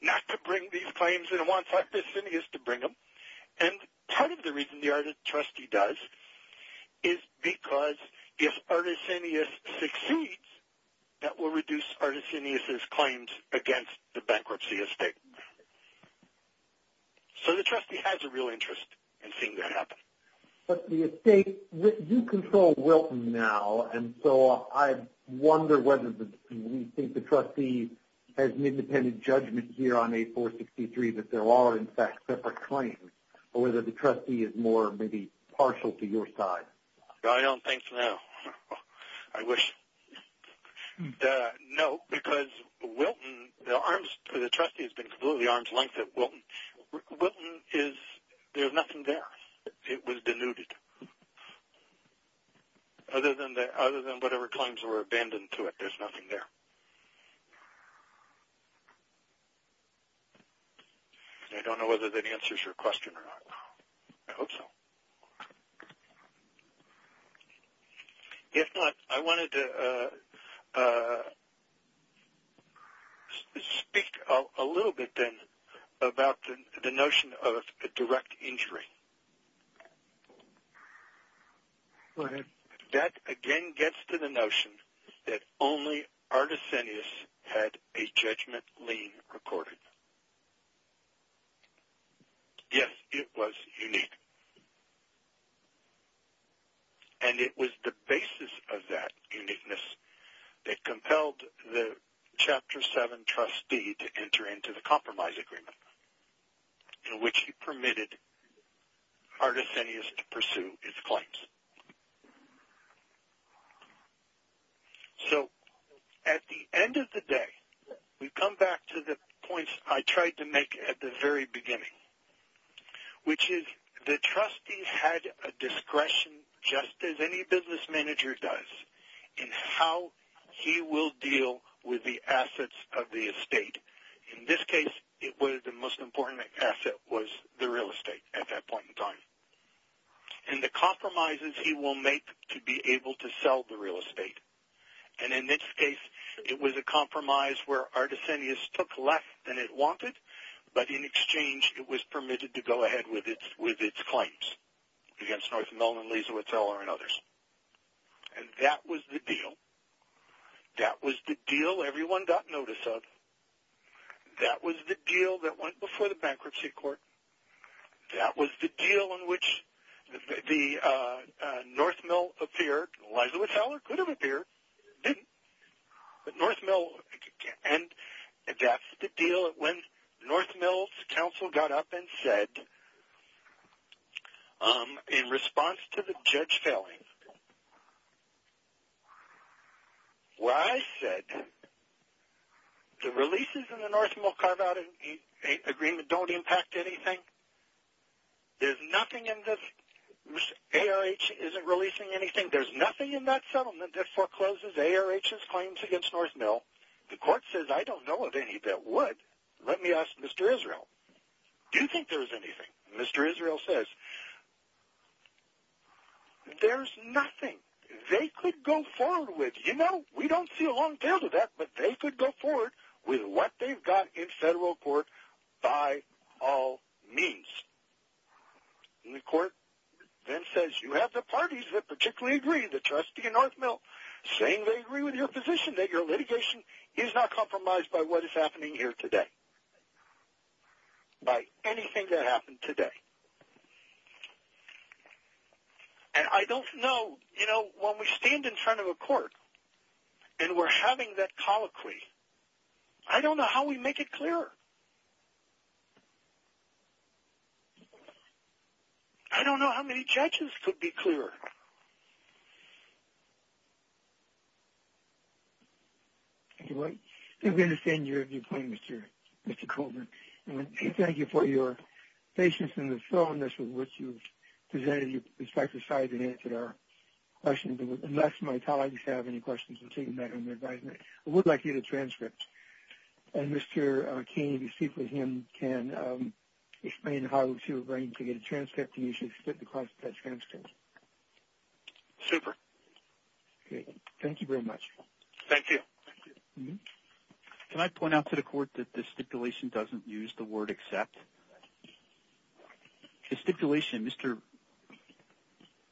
not to bring these claims and wants Artesinius to bring them. And part of the reason the trustee does is because if Artesinius succeeds, that will reduce Artesinius' claims against the bankruptcy estate. So the trustee has a real interest in seeing that happen. But the estate, you control Wilton now. And so I wonder whether we think the trustee has an independent judgment here on A463 that there are in fact separate claims or whether the trustee is more maybe partial to your side. I don't think so. No. Because Wilton, the trustee has been completely arm's length at Wilton. Wilton is, there's nothing there. It was denuded. Other than whatever claims were abandoned to it, there's nothing there. I don't know whether that answers your question or not. I hope so. If not, I wanted to speak a little bit then about the notion of a direct injury. Go ahead. That again gets to the notion that only Artesinius had a judgment lien recorded. Yes, it was unique. And it was the basis of that uniqueness that compelled the Chapter 7 trustee to enter into the compromise agreement in which he permitted Artesinius to pursue his claims. So at the end of the day, we come back to the points I tried to make at the very beginning, which is the trustees had a discretion just as any business manager does in how he will deal with the assets of the estate. In this case, it was the most important asset was the real estate at that point in time. And the compromises he will make to be able to sell the real estate. And in this case, it was a compromise where Artesinius took less than it wanted, but in exchange, it was permitted to go ahead with its claims against North Mellon, Lee's Hotel, and others. And that was the deal. That was the deal everyone got notice of. That was the deal that went before the bankruptcy court. That was the deal in which the North Mellon appeared. Lee's Hotel could have appeared. It didn't. But North Mellon, and that's the deal when North Mellon's counsel got up and said, in response to the judge failing, where I said, the releases in the North Mellon carve-out agreement don't impact anything. There's nothing in this. ARH isn't releasing anything. There's nothing in that settlement that forecloses ARH's claims against North Mellon. The court says, I don't know of any that would. Let me ask Mr. Israel. Do you think there's anything? Mr. Israel says, there's nothing. They could go forward with, you know, we don't see a long tail to that, but they could go forward with what they've got in federal court by all means. And the court then says, you have the parties that particularly agree, the trustee and North Mell, saying they agree with your position that your litigation is not compromised by what is happening here today. By anything that happened today. And I don't know, you know, when we stand in front of a court and we're having that colloquy, I don't know how we make it clear. I don't know how many judges could be clear. I think we understand your point, Mr. Coleman. Thank you for your patience and the firmness with which you've presented your perspective and I'm glad that you decided to answer our questions. Unless my colleagues have any questions between that and the advisement, I would like to get a transcript and Mr. King, if you speak with him, can explain how to get a transcript and you should submit the transcript. Super. Okay. Thank you very much. Thank you. Can I point out to the court that this stipulation doesn't use the word accept? The stipulation, Mr.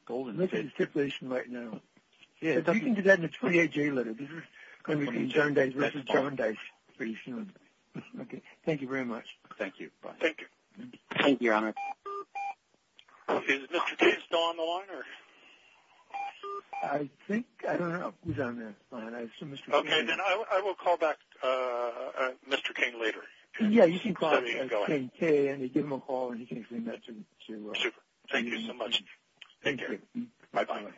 Coleman... Look at the stipulation right now. You can do that in a 28-J letter. This is John Dice pretty soon. Thank you very much. Thank you. Thank you. Thank you, Your Honor. Is Mr. King still on the line? I think... I don't know if he's on the line. Okay. I will call back Mr. King later. Yeah, you can call him. Give him a call and he can explain that to... Thank you so much. Thank you. Bye-bye.